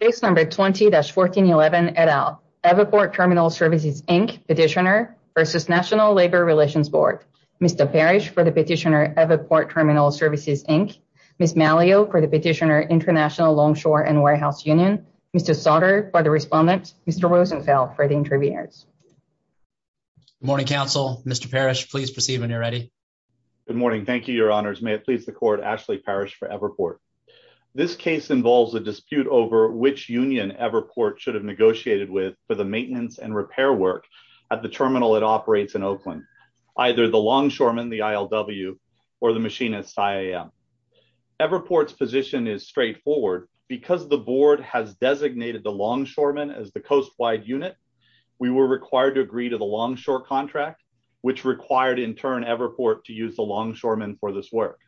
Page number 20-1411 et al. Everport Terminal Services Inc petitioner versus National Labor Relations Board. Mr. Parrish for the petitioner Everport Terminal Services Inc, Ms. Malleo for the petitioner International Longshore and Warehouse Union, Mr. Sautter for the respondents, Mr. Rosenfeld for the interviewers. Good morning, counsel. Mr. Parrish, please proceed when you're ready. Good morning. Thank you, your honors. May it please the court, Ashley Parrish for Everport. This case involves a dispute over which union Everport should have negotiated with for the maintenance and repair work at the terminal it operates in Oakland, either the longshoremen, the ILW, or the machinists, IAM. Everport's position is straightforward. Because the board has designated the longshoremen as the coastwide unit, we were required to agree to the longshore contract, which required in turn Everport to use the longshoremen for this work.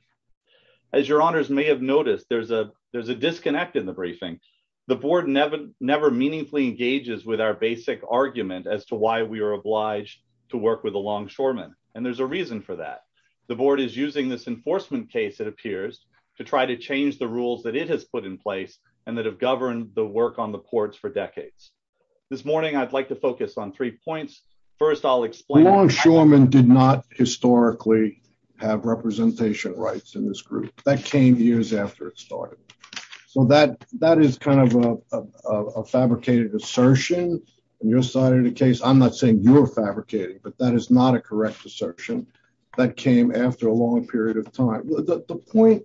As your honors may have noticed, there's a disconnect in the briefing. The board never meaningfully engages with our basic argument as to why we are obliged to work with the longshoremen. And there's a reason for that. The board is using this enforcement case, it appears, to try to change the rules that it has put in place and that have governed the work on the ports for decades. This morning, I'd like to focus on three points. First, I'll explain- Longshoremen did not historically have representation rights in this group. That came years after it started. So that is kind of a fabricated assertion on your side of the case. I'm not saying you're fabricating, but that is not a correct assertion. That came after a long period of time. The point-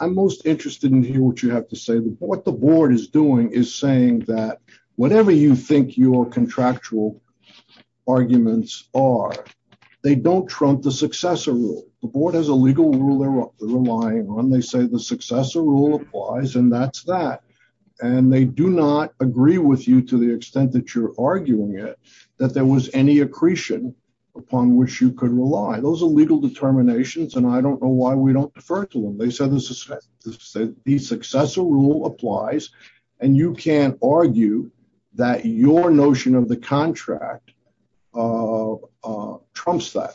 I'm most interested in hearing what you have to say. What the board is doing is saying that whatever you think your contractual arguments are, they don't trump the successor rule. The board has a legal rule they're relying on. They say the successor rule applies, and that's that. And they do not agree with you to the extent that you're arguing it, that there was any accretion upon which you could rely. Those are legal determinations, and I don't know why we don't defer to them. They say the successor rule applies, and you can't argue that your notion of the contract trumps that.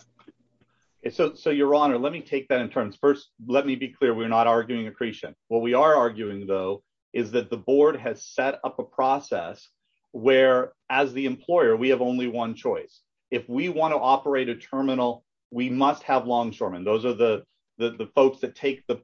Your Honor, let me take that in terms. First, let me be clear. We're not arguing accretion. What we are arguing, though, is that the board has set up a process where, as the employer, we have only one choice. If we want to operate a terminal, we must have longshoremen. Those are the folks that take the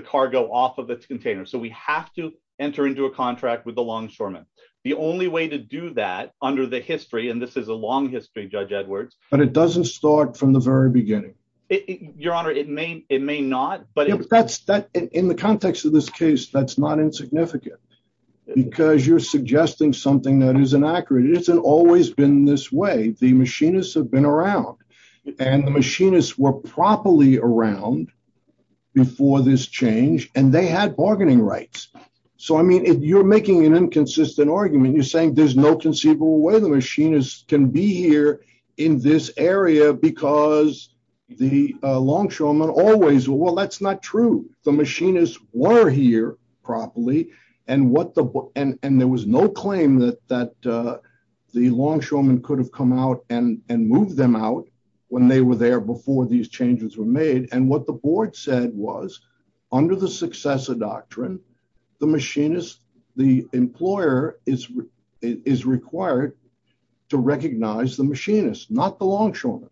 cargo off of its container. So we have to enter into a contract with the longshoremen. The only way to do that under the history – and this is a long history, Judge Edwards – But it doesn't start from the very beginning. Your Honor, it may not, but – In the context of this case, that's not insignificant because you're suggesting something that is inaccurate. It hasn't always been this way. The machinists have been around, and the machinists were properly around before this change, and they had bargaining rights. So, I mean, you're making an inconsistent argument. You're saying there's no conceivable way the machinists can be here in this area because the longshoremen always – Well, that's not true. The machinists were here properly, and there was no claim that the longshoremen could have come out and moved them out when they were there before these changes were made. And what the board said was, under the successor doctrine, the machinists – the employer is required to recognize the machinists, not the longshoremen.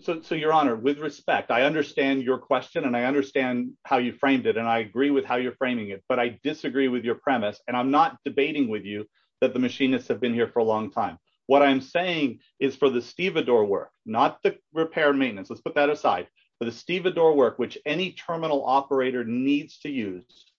So, Your Honor, with respect, I understand your question, and I understand how you framed it, and I agree with how you're framing it, but I disagree with your premise, and I'm not debating with you that the machinists have been here for a long time. What I'm saying is for the stevedore work, not the repair and maintenance – let's put that aside – for the stevedore work, which any terminal operator needs to use,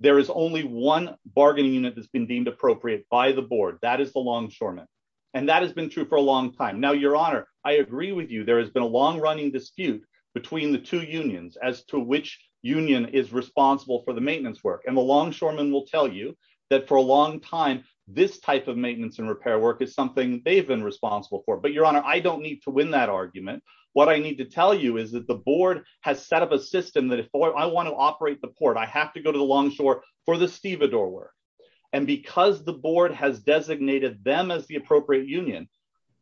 there is only one bargaining unit that's been deemed appropriate by the board. That is the longshoremen, and that has been true for a long time. Now, Your Honor, I agree with you. There has been a long-running dispute between the two unions as to which union is responsible for the maintenance work, and the longshoremen will tell you that for a long time, this type of maintenance and repair work is something they've been responsible for. But, Your Honor, I don't need to win that argument. What I need to tell you is that the board has set up a system that if I want to operate the port, I have to go to the longshore for the stevedore work. And because the board has designated them as the appropriate union,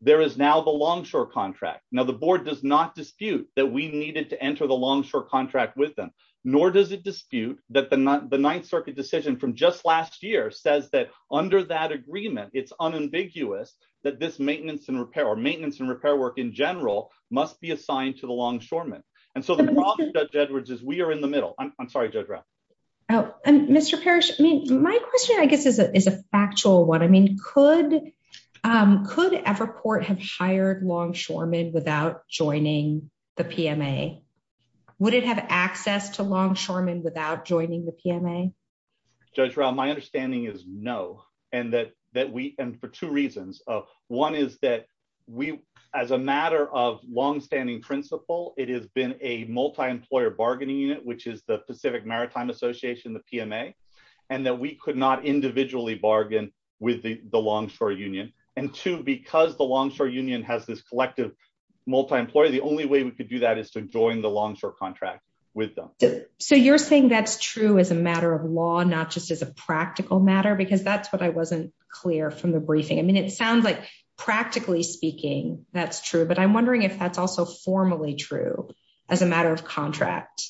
there is now the longshore contract. Now, the board does not dispute that we needed to enter the longshore contract with them, nor does it dispute that the Ninth Circuit decision from just last year says that under that agreement, it's unambiguous that this maintenance and repair, or maintenance and repair work in general, must be assigned to the longshoremen. And so the problem, Judge Edwards, is we are in the middle. I'm sorry, Judge Rao. Mr. Parrish, my question, I guess, is a factual one. I mean, could Everport have hired longshoremen without joining the PMA? Would it have access to longshoremen without joining the PMA? Judge Rao, my understanding is no, and for two reasons. One is that as a matter of longstanding principle, it has been a multi-employer bargaining unit, which is the Pacific Maritime Association, the PMA, and that we could not individually bargain with the longshore union. And two, because the longshore union has this collective multi-employer, the only way we could do that is to join the longshore contract with them. So you're saying that's true as a matter of law, not just as a practical matter, because that's what I wasn't clear from the briefing. I mean, it sounds like practically speaking, that's true, but I'm wondering if that's also formally true as a matter of contract.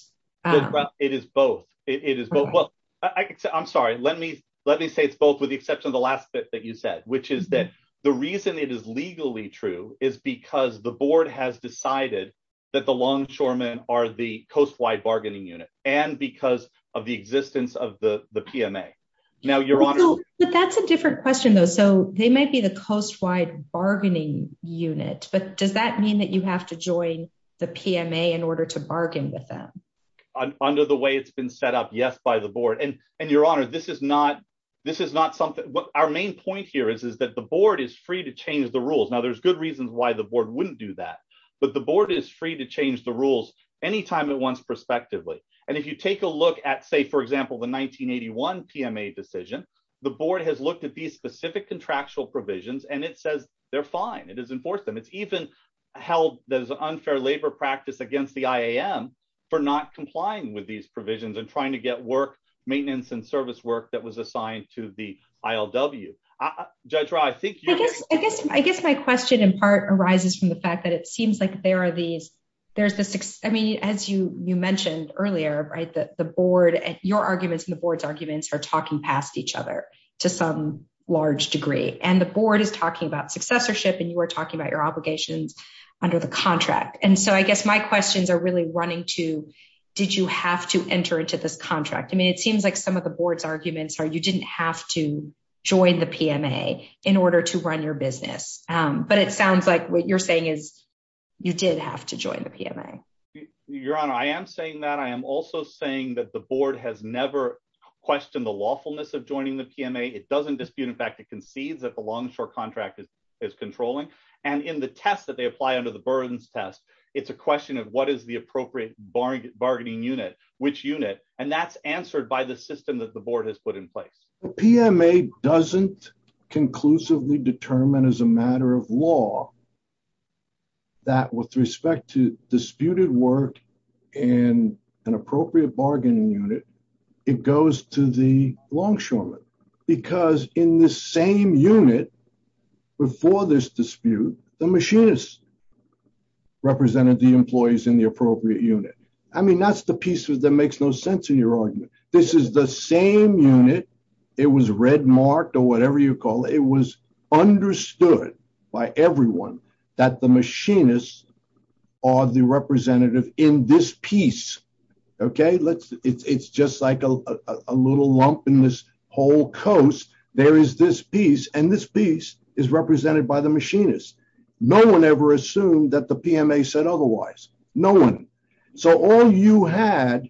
It is both. I'm sorry, let me say both with the exception of the last bit that you said, which is that the reason it is legally true is because the board has decided that the longshoremen are the coast wide bargaining unit and because of the existence of the PMA. But that's a different question though. So they may be the coast wide bargaining unit, but does that mean that you have to join the PMA in order to bargain with them? Under the way it's been set up, yes, by the board. And your honor, this is not something, our main point here is that the board is free to change the rules. Now, there's good reasons why the board wouldn't do that. But the board is free to change the rules anytime it wants, prospectively. And if you take a look at, say, for example, the 1981 PMA decision, the board has looked at these specific contractual provisions and it says they're fine. It has enforced them. It's even held as an unfair labor practice against the IAM for not complying with these provisions and trying to get work, maintenance and service work that was assigned to the ILW. I guess my question in part arises from the fact that it seems like there are these, there's this, I mean, as you mentioned earlier, the board and your arguments and the board's arguments are talking past each other to some large degree. And the board is talking about successorship and you are talking about your obligations under the contract. And so I guess my questions are really running to, did you have to enter into this contract? I mean, it seems like some of the board's arguments are you didn't have to join the PMA in order to run your business, but it sounds like what you're saying is you did have to join the PMA. Your Honor, I am saying that I am also saying that the board has never questioned the lawfulness of joining the PMA. It doesn't dispute, in fact, it concedes that the longshore contract is controlling. And in the test that they apply under the burdens test, it's a question of what is the appropriate bargaining unit, which unit. And that's answered by the system that the board has put in place. The PMA doesn't conclusively determine as a matter of law that with respect to disputed work and an appropriate bargaining unit, it goes to the longshoreman because in this same unit before this dispute, the machinists represented the employees in the appropriate unit. I mean, that's the piece that makes no sense to your argument. This is the same unit. It was red marked or whatever you call it. It was understood by everyone that the machinists are the representative in this piece. OK, let's it's just like a little lump in this whole coast. There is this piece and this piece is represented by the machinists. No one ever assumed that the PMA said otherwise. No one. So all you had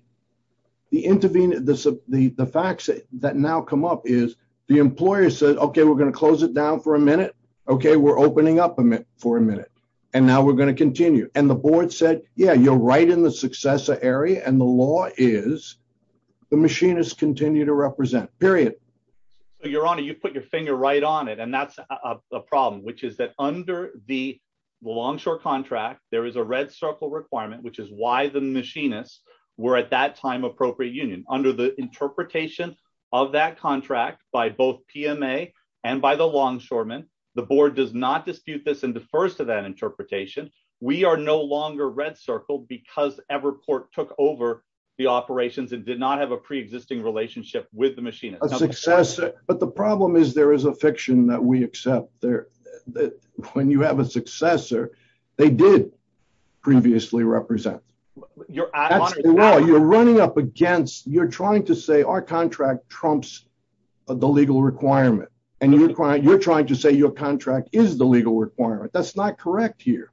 the intervene. The facts that now come up is the employer said, OK, we're going to close it down for a minute. OK, we're opening up for a minute and now we're going to continue. And the board said, yeah, you're right in the successor area. And the law is the machinists continue to represent period. Your honor, you put your finger right on it. And that's a problem, which is that under the longshore contract, there is a red circle requirement, which is why the machinists were at that time appropriate union under the interpretation of that contract by both PMA and by the longshoreman. The board does not dispute this in the first of that interpretation. We are no longer red circled because Everport took over the operations and did not have a preexisting relationship with the machinists of success. But the problem is, there is a fiction that we accept there that when you have a successor, they did previously represent your. You're running up against you're trying to say our contract trumps the legal requirement and you're trying you're trying to say your contract is the legal requirement. That's not correct here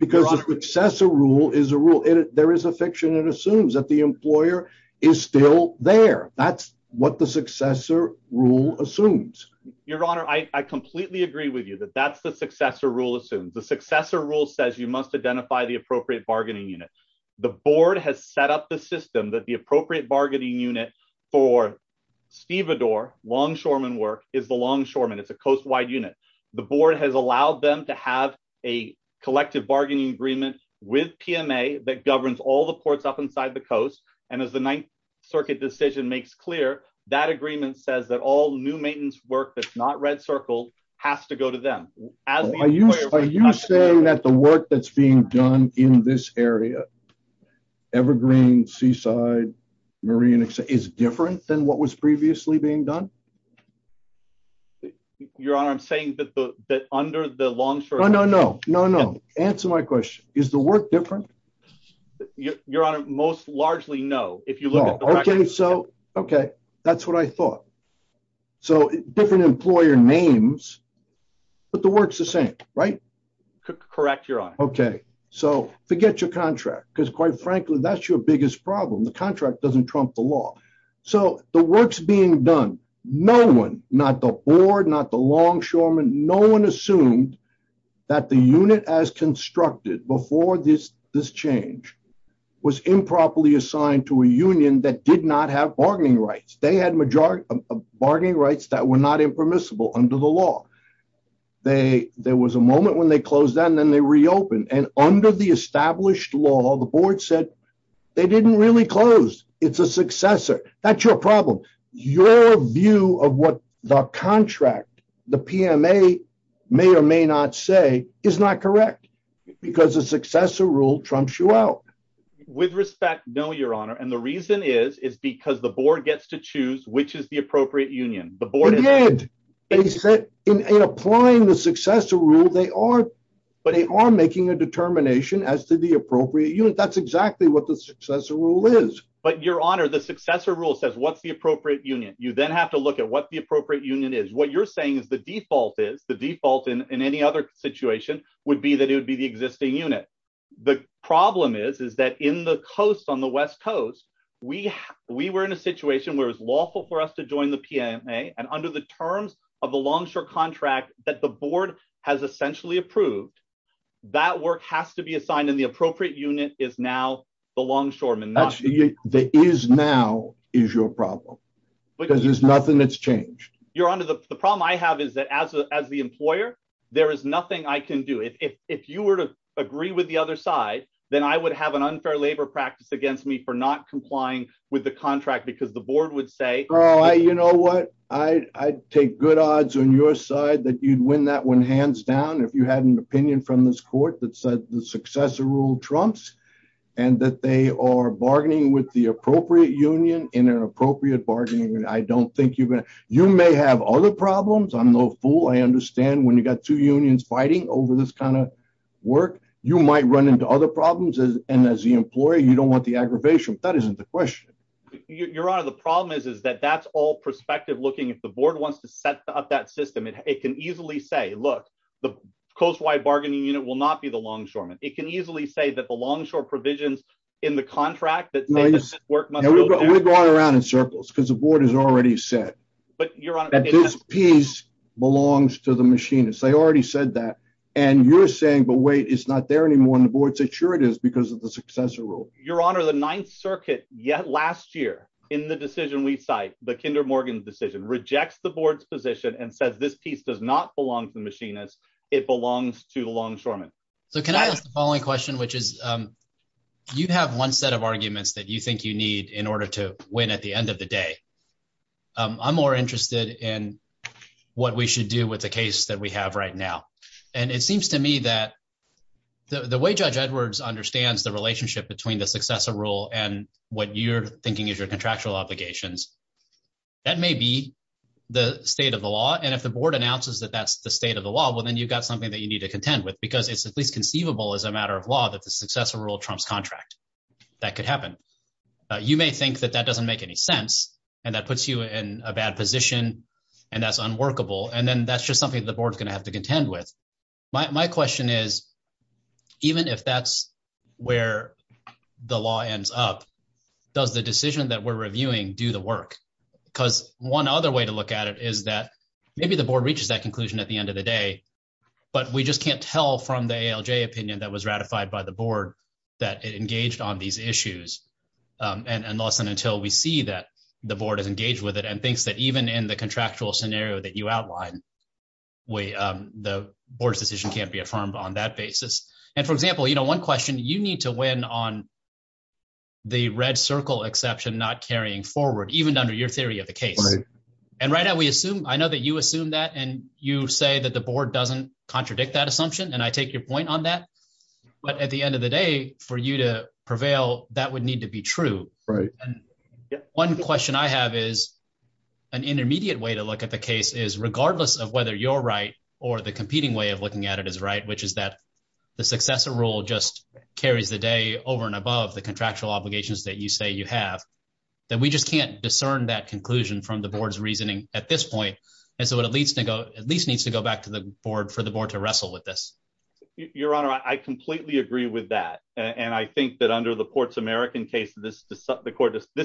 because the successor rule is a rule. There is a fiction that assumes that the employer is still there. That's what the successor rule assumes your honor. I completely agree with you that that's the successor rule. The successor rule says you must identify the appropriate bargaining units. The board has set up the system that the appropriate bargaining unit for Steve Adore longshoreman work is the longshoreman. It's a coast wide unit. The board has allowed them to have a collective bargaining agreement with PMA that governs all the ports up inside the coast. And as the Ninth Circuit decision makes clear that agreement says that all new maintenance work that's not red circle has to go to them. Are you saying that the work that's being done in this area, Evergreen, Seaside, Marine is different than what was previously being done? Your honor, I'm saying that under the long term. No, no, no, no, no. Answer my question. Is the work different? Your honor, most largely no. If you look at the record. Okay, so, okay, that's what I thought. So, different employer names, but the work's the same, right? Correct, your honor. Okay, so forget your contract because quite frankly, that's your biggest problem. The contract doesn't trump the law. So, the work's being done. No one, not the board, not the longshoreman, no one assumed that the unit as constructed before this change was improperly assigned to a union that did not have bargaining rights. They had majority of bargaining rights that were not impermissible under the law. There was a moment when they closed that and then they reopened and under the established law, the board said they didn't really close. It's a successor. That's your problem. Your view of what the contract, the PMA may or may not say is not correct because the successor rule trumps you out. With respect, no, your honor. And the reason is, is because the board gets to choose which is the appropriate union. They did. In applying the successor rule, they are, but they are making a determination as to the appropriate unit. That's exactly what the successor rule is. But your honor, the successor rule says what's the appropriate union. You then have to look at what the appropriate union is. What you're saying is the default is, the default in any other situation would be that it would be the existing unit. The problem is, is that in the coast, on the West Coast, we were in a situation where it was lawful for us to join the PMA. And under the terms of the longshore contract that the board has essentially approved, that work has to be assigned. And the appropriate unit is now the longshoreman. The is now is your problem because there's nothing that's changed. Your honor, the problem I have is that as the employer, there is nothing I can do. If you were to agree with the other side, then I would have an unfair labor practice against me for not complying with the contract because the board would say. Oh, you know what? I take good odds on your side that you'd win that one hands down. If you had an opinion from this court that said the successor rule trumps and that they are bargaining with the appropriate union in an appropriate bargaining. I don't think you may have other problems. I'm no fool. I understand when you got two unions fighting over this kind of work, you might run into other problems. And as the employer, you don't want the aggravation. That isn't the question. Your honor, the problem is, is that that's all perspective looking at the board wants to set up that system. It can easily say, look, the coast wide bargaining unit will not be the longshoreman. It can easily say that the longshore provisions in the contract that we're going around in circles because the board is already set. But your piece belongs to the machine. They already said that. And you're saying, but wait, it's not there anymore. And the board said, sure, it is because of the successor rule. Your honor, the Ninth Circuit yet last year in the decision, we cite the Kinder Morgan decision, rejects the board's position and says this piece does not belong to the machinist. It belongs to the longshoreman. So can I ask the following question, which is you have one set of arguments that you think you need in order to win at the end of the day. I'm more interested in what we should do with the case that we have right now. And it seems to me that the way Judge Edwards understands the relationship between the successor rule and what you're thinking is your contractual obligations. That may be the state of the law. And if the board announces that that's the state of the law, well, then you've got something that you need to contend with, because it's conceivable as a matter of law that the successor rule Trump's contract that could happen. You may think that that doesn't make any sense. And that puts you in a bad position. And that's unworkable. And then that's just something that the board's going to have to contend with. My question is, even if that's where the law ends up, does the decision that we're reviewing do the work? Because one other way to look at it is that maybe the board reaches that conclusion at the end of the day, but we just can't tell from the ALJ opinion that was ratified by the board that it engaged on these issues. And unless and until we see that the board is engaged with it and thinks that even in the contractual scenario that you outlined, the board's decision can't be affirmed on that basis. And, for example, one question, you need to win on the red circle exception not carrying forward, even under your theory of the case. And right now we assume – I know that you assume that, and you say that the board doesn't contradict that assumption, and I take your point on that. But at the end of the day, for you to prevail, that would need to be true. And one question I have is an intermediate way to look at the case is, regardless of whether you're right or the competing way of looking at it is right, which is that the successor rule just carries the day over and above the contractual obligations that you say you have, that we just can't discern that conclusion from the board's reasoning at this point. And so it at least needs to go back to the board for the board to wrestle with this. Your Honor, I completely agree with that. And I think that under the Ports American case, this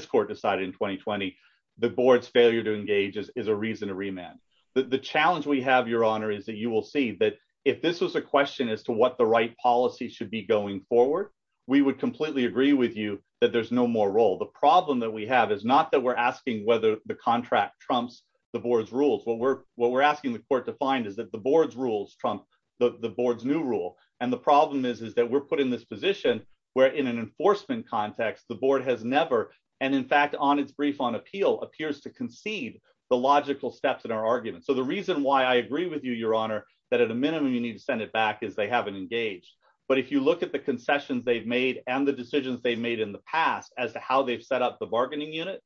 court decided in 2020, the board's failure to engage is a reason to remand. The challenge we have, Your Honor, is that you will see that if this was a question as to what the right policy should be going forward, we would completely agree with you that there's no more role. The problem that we have is not that we're asking whether the contract trumps the board's rules. What we're asking the court to find is that the board's rules trump the board's new rule. And the problem is that we're put in this position where in an enforcement context, the board has never, and in fact, on its brief on appeal, appears to concede the logical steps in our argument. So the reason why I agree with you, Your Honor, that at a minimum you need to send it back is they haven't engaged. But if you look at the concessions they've made and the decisions they've made in the past as to how they've set up the bargaining unit,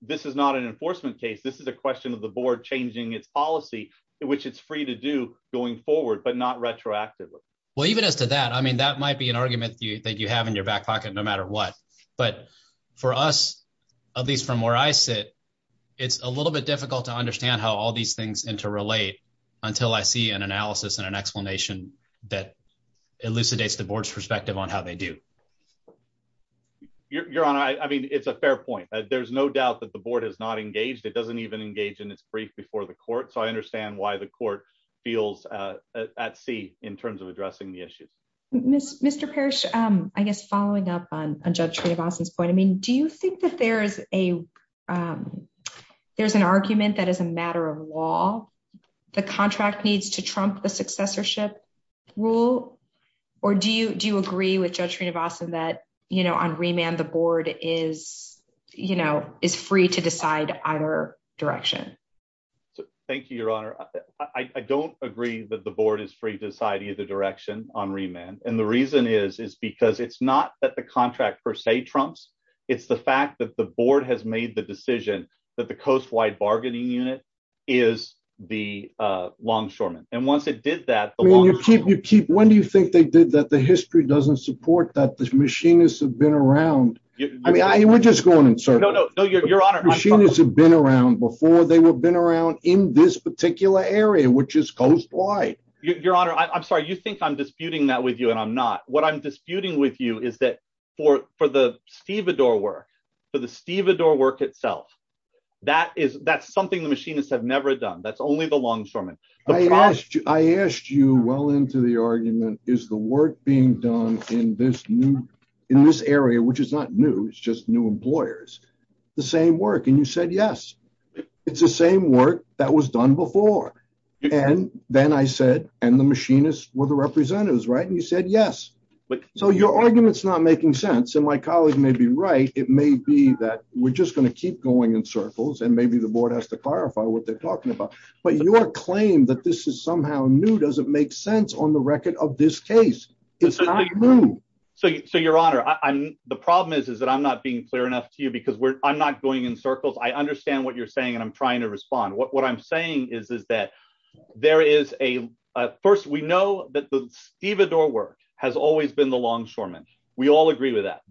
this is not an enforcement case. This is a question of the board changing its policy, which it's free to do going forward, but not retroactively. Well, even as to that, I mean, that might be an argument that you have in your back pocket no matter what. But for us, at least from where I sit, it's a little bit difficult to understand how all these things interrelate until I see an analysis and an explanation that elucidates the board's perspective on how they do. Your Honor, I mean, it's a fair point. There's no doubt that the board has not engaged. It doesn't even engage in its brief before the court. So I understand why the court feels at sea in terms of addressing the issue. Mr. Parrish, I guess following up on Judge Srinivasan's point, I mean, do you think that there's an argument that is a matter of law? The contract needs to trump the successorship rule? Or do you agree with Judge Srinivasan that on remand the board is free to decide either direction? Thank you, Your Honor. I don't agree that the board is free to decide either direction on remand. And the reason is, is because it's not that the contract per se trumps. It's the fact that the board has made the decision that the Coastwide Bargaining Unit is the longshoreman. And once it did that, the longshoreman... When do you think they did that? The history doesn't support that. The machinists have been around. I mean, we're just going in circles. Machinists have been around before. They have been around in this particular area, which is coastwide. Your Honor, I'm sorry. You think I'm disputing that with you, and I'm not. What I'm disputing with you is that for the Stevedore work, for the Stevedore work itself, that's something the machinists have never done. That's only the longshoreman. I asked you well into the argument, is the work being done in this area, which is not new, it's just new employers, the same work? And you said yes. It's the same work that was done before. And then I said, and the machinists were the representatives, right? And you said yes. So your argument's not making sense, and my colleague may be right. It may be that we're just going to keep going in circles, and maybe the board has to clarify what they're talking about. But your claim that this is somehow new doesn't make sense on the record of this case. It's not new. So, Your Honor, the problem is that I'm not being clear enough to you because I'm not going in circles. I understand what you're saying, and I'm trying to respond. What I'm saying is that there is a – first, we know that the Stevedore work has always been the longshoreman. We all agree with that.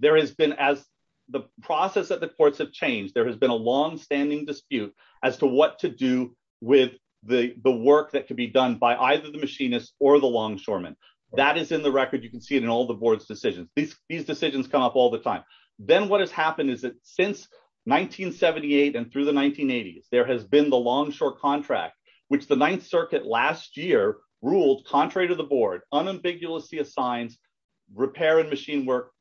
The process of the courts have changed. There has been a longstanding dispute as to what to do with the work that could be done by either the machinists or the longshoremen. That is in the record. You can see it in all the board's decisions. These decisions come up all the time. Then what has happened is that since 1978 and through the 1980s, there has been the longshore contract, which the Ninth Circuit last year ruled contrary to the board, unambiguously assigned repair and machine work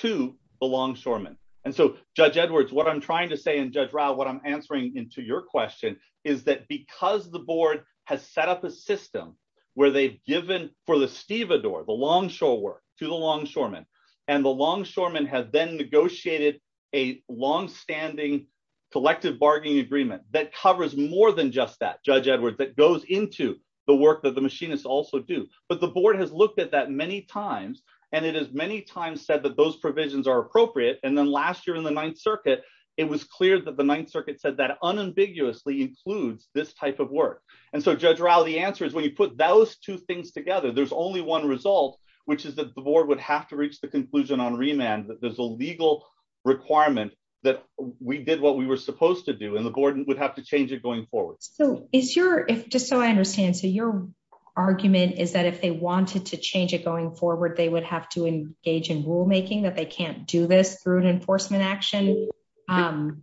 to the longshoremen. And so, Judge Edwards, what I'm trying to say, and Judge Rao, what I'm answering to your question is that because the board has set up a system where they've given for the Stevedore, the longshore work, to the longshoremen, and the longshoremen have then negotiated a longstanding collective bargaining agreement that covers more than just that, Judge Edwards, that goes into the work that the machinists also do. But the board has looked at that many times, and it has many times said that those provisions are appropriate. And then last year in the Ninth Circuit, it was clear that the Ninth Circuit said that unambiguously includes this type of work. And so, Judge Rao, the answer is when you put those two things together, there's only one result, which is that the board would have to reach the conclusion on remand that there's a legal requirement that we did what we were supposed to do, and the board would have to change it going forward. So, just so I understand, so your argument is that if they wanted to change it going forward, they would have to engage in rulemaking, that they can't do this through an enforcement action? I'm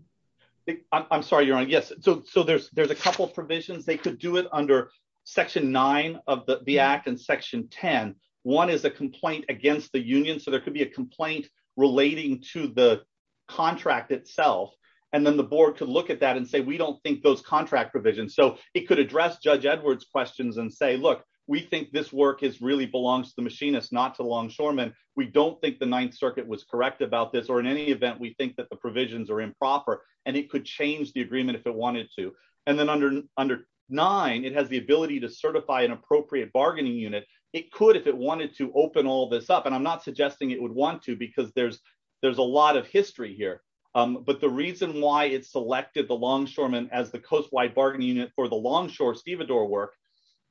sorry, Your Honor. Yes. So, there's a couple of provisions. They could do it under Section 9 of the Act and Section 10. One is a complaint against the union, so there could be a complaint relating to the contract itself, and then the board could look at that and say, we don't think those contract provisions. So, it could address Judge Edwards' questions and say, look, we think this work really belongs to the machinists, not to Longshoremen. We don't think the Ninth Circuit was correct about this, or in any event, we think that the provisions are improper, and it could change the agreement if it wanted to. And then under 9, it has the ability to certify an appropriate bargaining unit. It could if it wanted to open all this up, and I'm not suggesting it would want to because there's a lot of history here. But the reason why it selected the Longshoremen as the coast-wide bargaining unit for the Longshore-Sevador work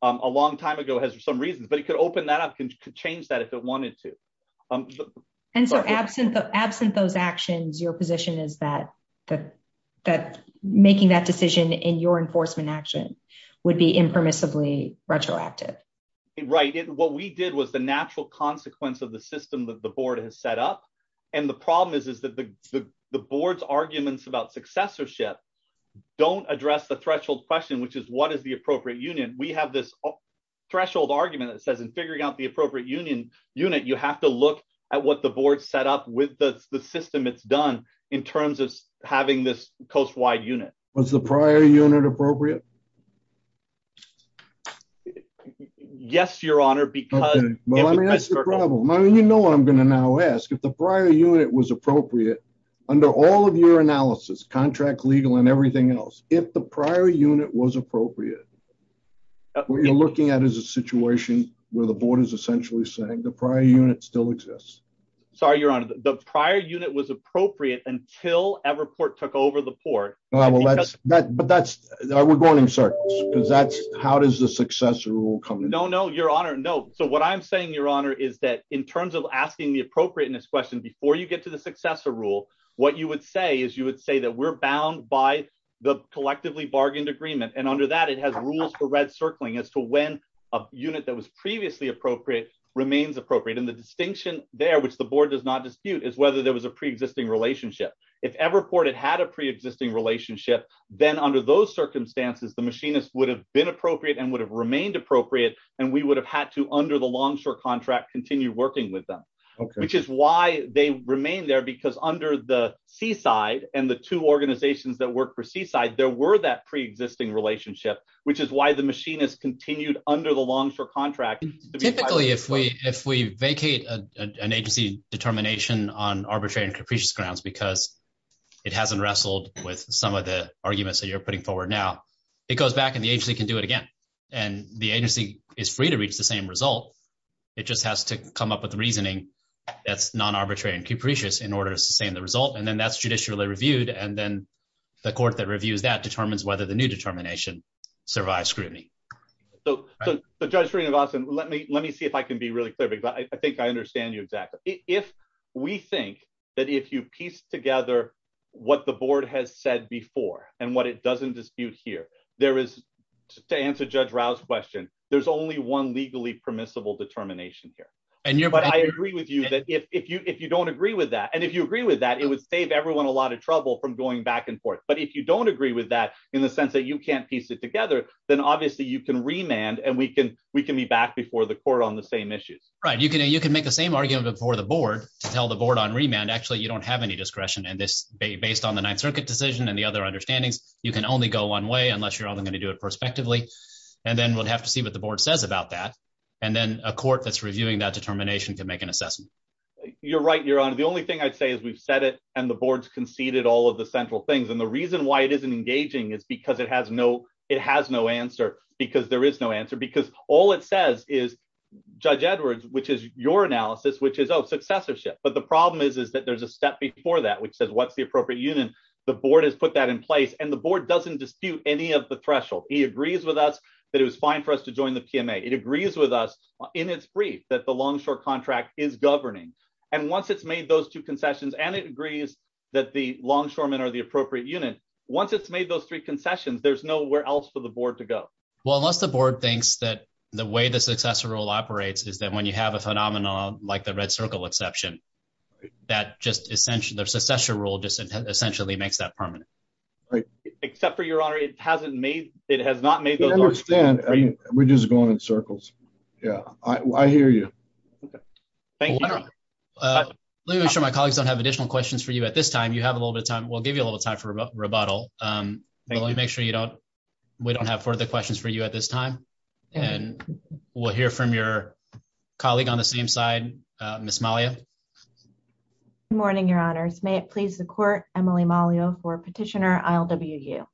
a long time ago has some reasons, but it could open that up and could change that if it wanted to. And so, absent those actions, your position is that making that decision in your enforcement action would be impermissibly retroactive. Right. What we did was the natural consequence of the system that the board has set up, and the problem is that the board's arguments about successorship don't address the threshold question, which is what is the appropriate union. We have this threshold argument that says in figuring out the appropriate union unit, you have to look at what the board set up with the system it's done in terms of having this coast-wide unit. Was the prior unit appropriate? Yes, Your Honor, because— Okay. Well, let me ask you a problem. You know what I'm going to now ask. If the prior unit was appropriate, under all of your analysis, contract, legal, and everything else, if the prior unit was appropriate, what you're looking at is a situation where the board is essentially saying the prior unit still exists. Sorry, Your Honor. The prior unit was appropriate until Everport took over the port. But that's—we're going in circles. How does the successor rule come in? No, no, Your Honor, no. So what I'm saying, Your Honor, is that in terms of asking the appropriateness question, before you get to the successor rule, what you would say is you would say that we're bound by the collectively bargained agreement, and under that, it has rules for red circling as to when a unit that was previously appropriate remains appropriate. And the distinction there, which the board does not dispute, is whether there was a pre-existing relationship. If Everport had had a pre-existing relationship, then under those circumstances, the machinists would have been appropriate and would have remained appropriate, and we would have had to, under the longshore contract, continue working with them, which is why they remain there, because under the seaside and the two organizations that work for seaside, there were that pre-existing relationship, which is why the machinists continued under the longshore contract. Typically, if we vacate an agency determination on arbitrary and capricious grounds because it hasn't wrestled with some of the arguments that you're putting forward now, it goes back and the agency can do it again, and the agency is free to reach the same result. It just has to come up with a reasoning that's non-arbitrary and capricious in order to sustain the result, and then that's judicially reviewed, and then the court that reviews that determines whether the new determination survives scrutiny. So, Judge Green and Gossin, let me see if I can be really clear, because I think I understand you exactly. If we think that if you piece together what the board has said before and what it doesn't dispute here, there is, to answer Judge Rouse's question, there's only one legally permissible determination here. But I agree with you that if you don't agree with that, and if you agree with that, it would save everyone a lot of trouble from going back and forth. But if you don't agree with that in the sense that you can't piece it together, then obviously you can remand and we can be back before the court on the same issue. Right. You can make the same argument before the board to tell the board on remand, actually, you don't have any discretion in this based on the Ninth Circuit decision and the other understandings. You can only go one way unless you're only going to do it prospectively, and then we'll have to see what the board says about that, and then a court that's reviewing that determination can make an assessment. You're right, Your Honor. The only thing I'd say is we've said it and the board's conceded all of the central things. And the reason why it isn't engaging is because it has no answer, because there is no answer, because all it says is Judge Edwards, which is your analysis, which is, oh, successorship. But the problem is, is that there's a step before that which says what's the appropriate unit. The board has put that in place and the board doesn't dispute any of the threshold. He agrees with us that it was fine for us to join the TMA. It agrees with us in its brief that the longshore contract is governing. And once it's made those two concessions and it agrees that the longshoremen are the appropriate unit, once it's made those three concessions, there's nowhere else for the board to go. Well, unless the board thinks that the way the successor rule operates is that when you have a phenomenon like the Red Circle exception, that just essentially, the successor rule just essentially makes that permanent. Except for, Your Honor, it hasn't made, it has not made those concessions. We're just going in circles. Yeah, I hear you. Thank you. Let me make sure my colleagues don't have additional questions for you at this time. You have a little bit of time. We'll give you a little time for rebuttal. Make sure you don't. We don't have further questions for you at this time. And we'll hear from your colleague on the same side. Miss Malia. Good morning, Your Honor. May it please the court. Emily Malia for petitioner. I'll WU.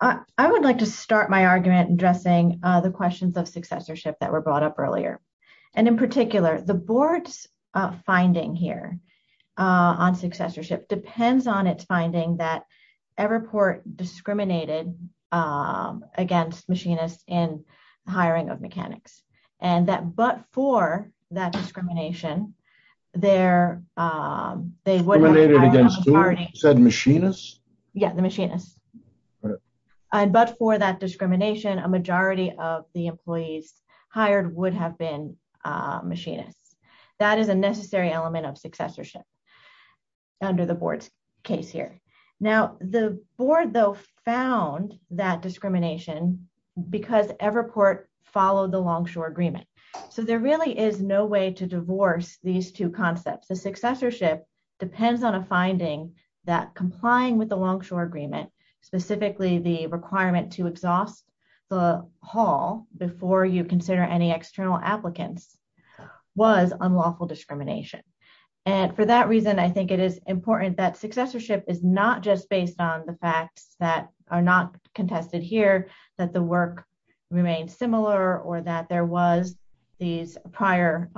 I would like to start my argument addressing the questions of successorship that were brought up earlier. And in particular, the board's finding here on successorship depends on its finding that Everport discriminated against machinists in hiring of mechanics. And that but for that discrimination there, they were. They said machinists. Yeah, the machinists. But for that discrimination, a majority of the employees hired would have been machinists. That is a necessary element of successorship under the board's case here. Now, the board, though, found that discrimination because Everport followed the longshore agreement. So there really is no way to divorce these two concepts. The successorship depends on a finding that complying with the longshore agreement, specifically the requirement to exhaust the hall before you consider any external applicants was unlawful discrimination. And for that reason, I think it is important that successorship is not just based on the fact that are not contested here, that the work remains similar or that there was these prior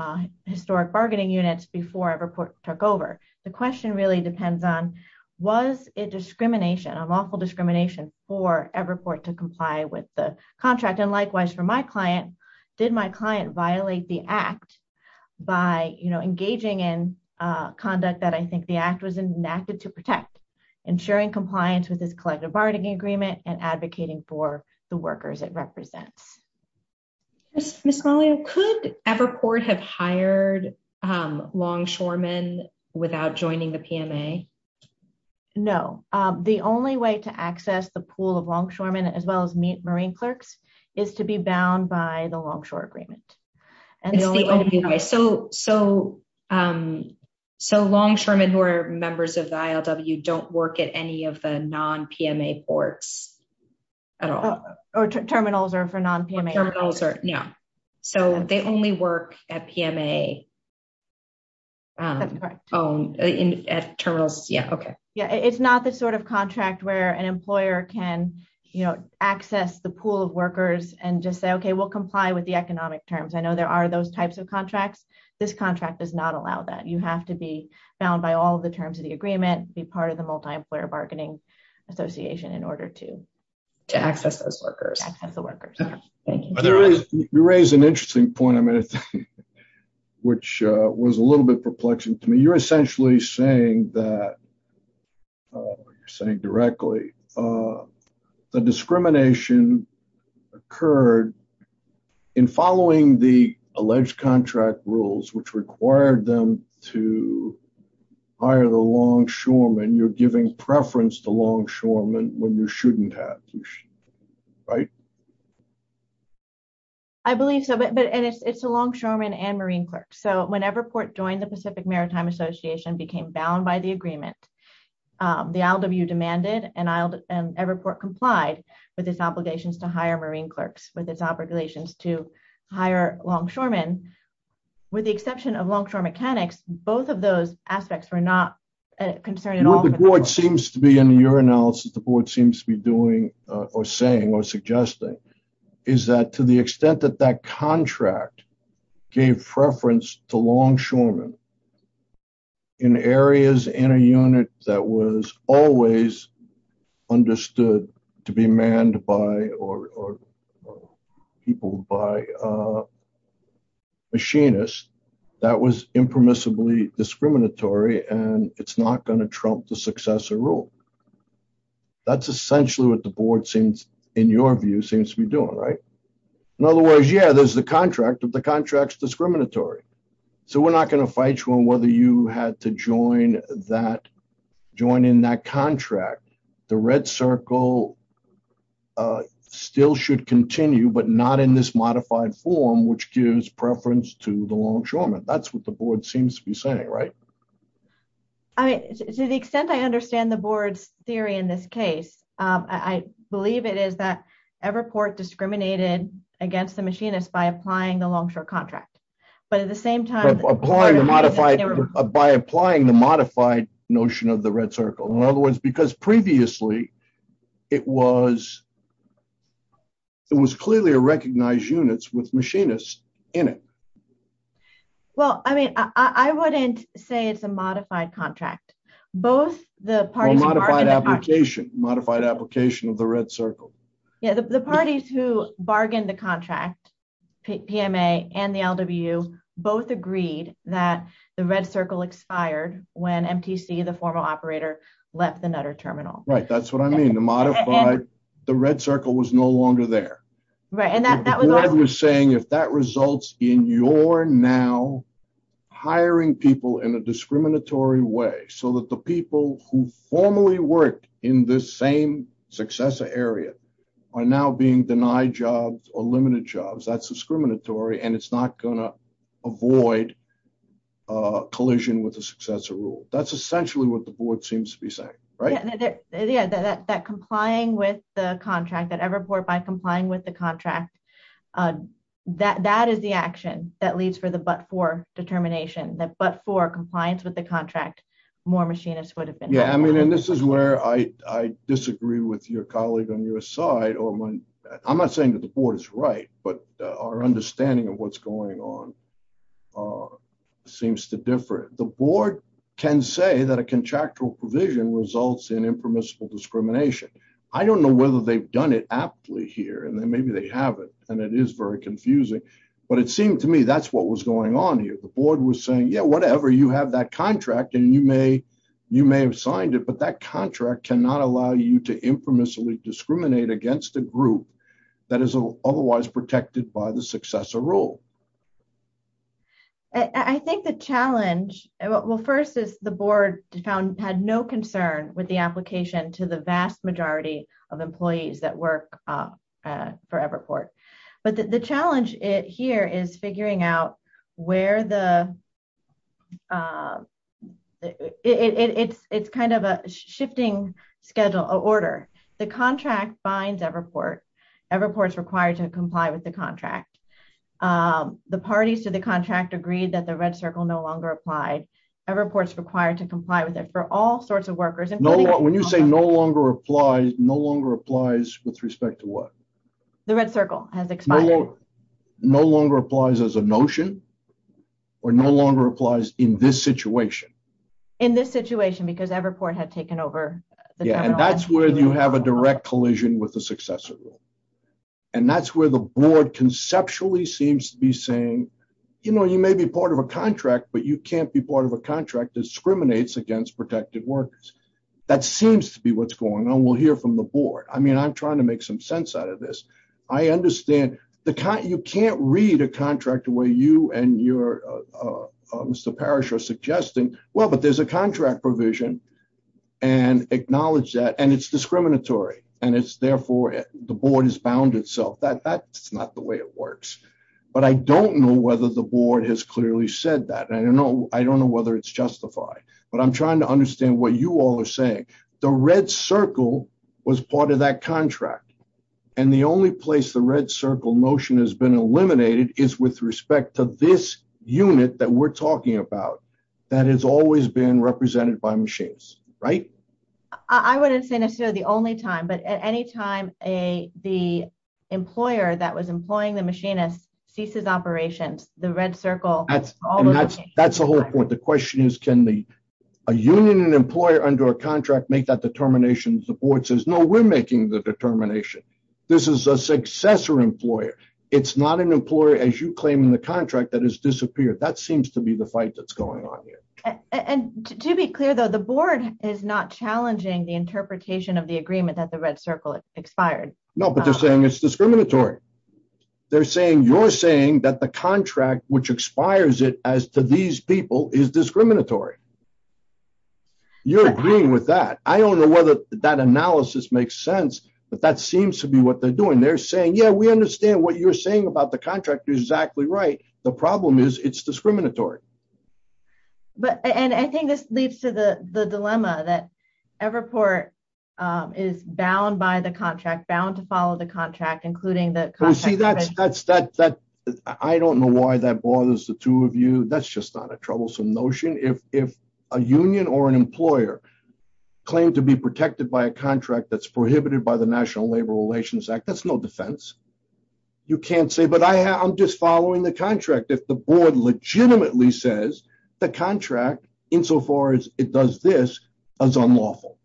historic bargaining units before Everport took over. The question really depends on was it discrimination, unlawful discrimination for Everport to comply with the contract. And likewise, for my client, did my client violate the act by engaging in conduct that I think the act was enacted to protect, ensuring compliance with this collective bargaining agreement and advocating for the workers it represents. Miss Crowley, could Everport have hired longshoremen without joining the PMA? No, the only way to access the pool of longshoremen as well as meet marine clerks is to be bound by the longshore agreement. So longshoremen who are members of the ILW don't work at any of the non-PMA ports at all? Terminals are for non-PMA terminals. Yeah. So they only work at PMA terminals. Yeah. OK. Yeah. It's not the sort of contract where an employer can access the pool of workers and just say, OK, we'll comply with the economic terms. I know there are those types of contracts. This contract does not allow that. You have to be bound by all the terms of the agreement, be part of the multi-employer bargaining association in order to access those workers, access the workers. You raise an interesting point, which was a little bit perplexing to me. You're essentially saying that, you're saying directly, the discrimination occurred in following the alleged contract rules, which required them to hire the longshoremen. You're giving preference to longshoremen when you shouldn't have. Right? I believe so. But it's the longshoremen and marine clerks. So when Everport joined the Pacific Maritime Association, became bound by the agreement, the ILW demanded and Everport complied with its obligations to hire marine clerks, with its obligations to hire longshoremen. With the exception of longshore mechanics, both of those aspects were not concerned. The board seems to be, in your analysis, the board seems to be doing or saying or suggesting is that to the extent that that contract gave preference to longshoremen in areas in a unit that was always understood to be manned by or people by machinists, that was impermissibly discriminatory and it's not going to trump the successor rule. That's essentially what the board seems, in your view, seems to be doing. Right? In other words, yeah, there's the contract, but the contract's discriminatory. So we're not going to fight you on whether you had to join in that contract. The red circle still should continue, but not in this modified form, which gives preference to the longshoremen. That's what the board seems to be saying. Right? To the extent I understand the board's theory in this case, I believe it is that Everport discriminated against the machinists by applying the longshore contract. By applying the modified notion of the red circle. In other words, because previously it was clearly a recognized unit with machinists in it. Well, I mean, I wouldn't say it's a modified contract. A modified application of the red circle. The parties who bargained the contract, PMA and the LWU, both agreed that the red circle expired when MTC, the formal operator, left the Nutter Terminal. Right. That's what I mean. The modified, the red circle was no longer there. The board was saying if that results in your now hiring people in a discriminatory way so that the people who formerly worked in this same successor area are now being denied jobs or limited jobs, that's discriminatory and it's not going to avoid collision with the successor rule. That's essentially what the board seems to be saying. Right? That complying with the contract, that Everport, by complying with the contract, that is the action that leads for the but-for determination. That but-for compliance with the contract, more machinists would have been. Yeah, I mean, and this is where I disagree with your colleague on your side. I'm not saying that the board is right, but our understanding of what's going on seems to differ. The board can say that a contractual provision results in impermissible discrimination. I don't know whether they've done it aptly here, and then maybe they haven't, and it is very confusing, but it seemed to me that's what was going on here. The board was saying, yeah, whatever, you have that contract and you may have signed it, but that contract cannot allow you to impermissibly discriminate against a group that is otherwise protected by the successor rule. I think the challenge, well, first is the board had no concern with the application to the vast majority of employees that work for Everport. But the challenge here is figuring out where the, it's kind of a shifting schedule, order. The contract binds Everport. Everport's required to comply with the contract. The parties to the contract agreed that the red circle no longer applied. Everport's required to comply with it for all sorts of workers. When you say no longer applies, no longer applies with respect to what? The red circle. No longer applies as a notion, or no longer applies in this situation? In this situation, because Everport had taken over. Yeah, and that's where you have a direct collision with the successor rule. And that's where the board conceptually seems to be saying, you know, you may be part of a contract, but you can't be part of a contract that discriminates against protected workers. That seems to be what's going on. We'll hear from the board. I mean, I'm trying to make some sense out of this. You can't read a contract where you and Mr. Parrish are suggesting, well, but there's a contract provision, and acknowledge that, and it's discriminatory. And it's therefore, the board has bound itself. That's not the way it works. But I don't know whether the board has clearly said that. I don't know whether it's justified. But I'm trying to understand what you all are saying. The red circle was part of that contract. And the only place the red circle motion has been eliminated is with respect to this unit that we're talking about, that has always been represented by machines. Right? I would have seen it through the only time. But at any time, the employer that was employing the machinist ceases operation, the red circle. That's the whole point. The question is, can a union and employer under a contract make that determination? The board says, no, we're making the determination. This is a successor employer. It's not an employer, as you claim in the contract, that has disappeared. That seems to be the fight that's going on here. And to be clear, though, the board is not challenging the interpretation of the agreement that the red circle expired. No, but they're saying it's discriminatory. They're saying you're saying that the contract which expires it as to these people is discriminatory. You're agreeing with that. I don't know whether that analysis makes sense, but that seems to be what they're doing. They're saying, yeah, we understand what you're saying about the contract. You're exactly right. The problem is it's discriminatory. But I think this leads to the dilemma that Everport is bound by the contract, bound to follow the contract, including that. I don't know why that bothers the two of you. That's just not a troublesome notion. If a union or an employer claimed to be protected by a contract that's prohibited by the National Labor Relations Act, that's no defense. You can't say, but I'm just following the contract. If the board legitimately says the contract, insofar as it does this, is unlawful.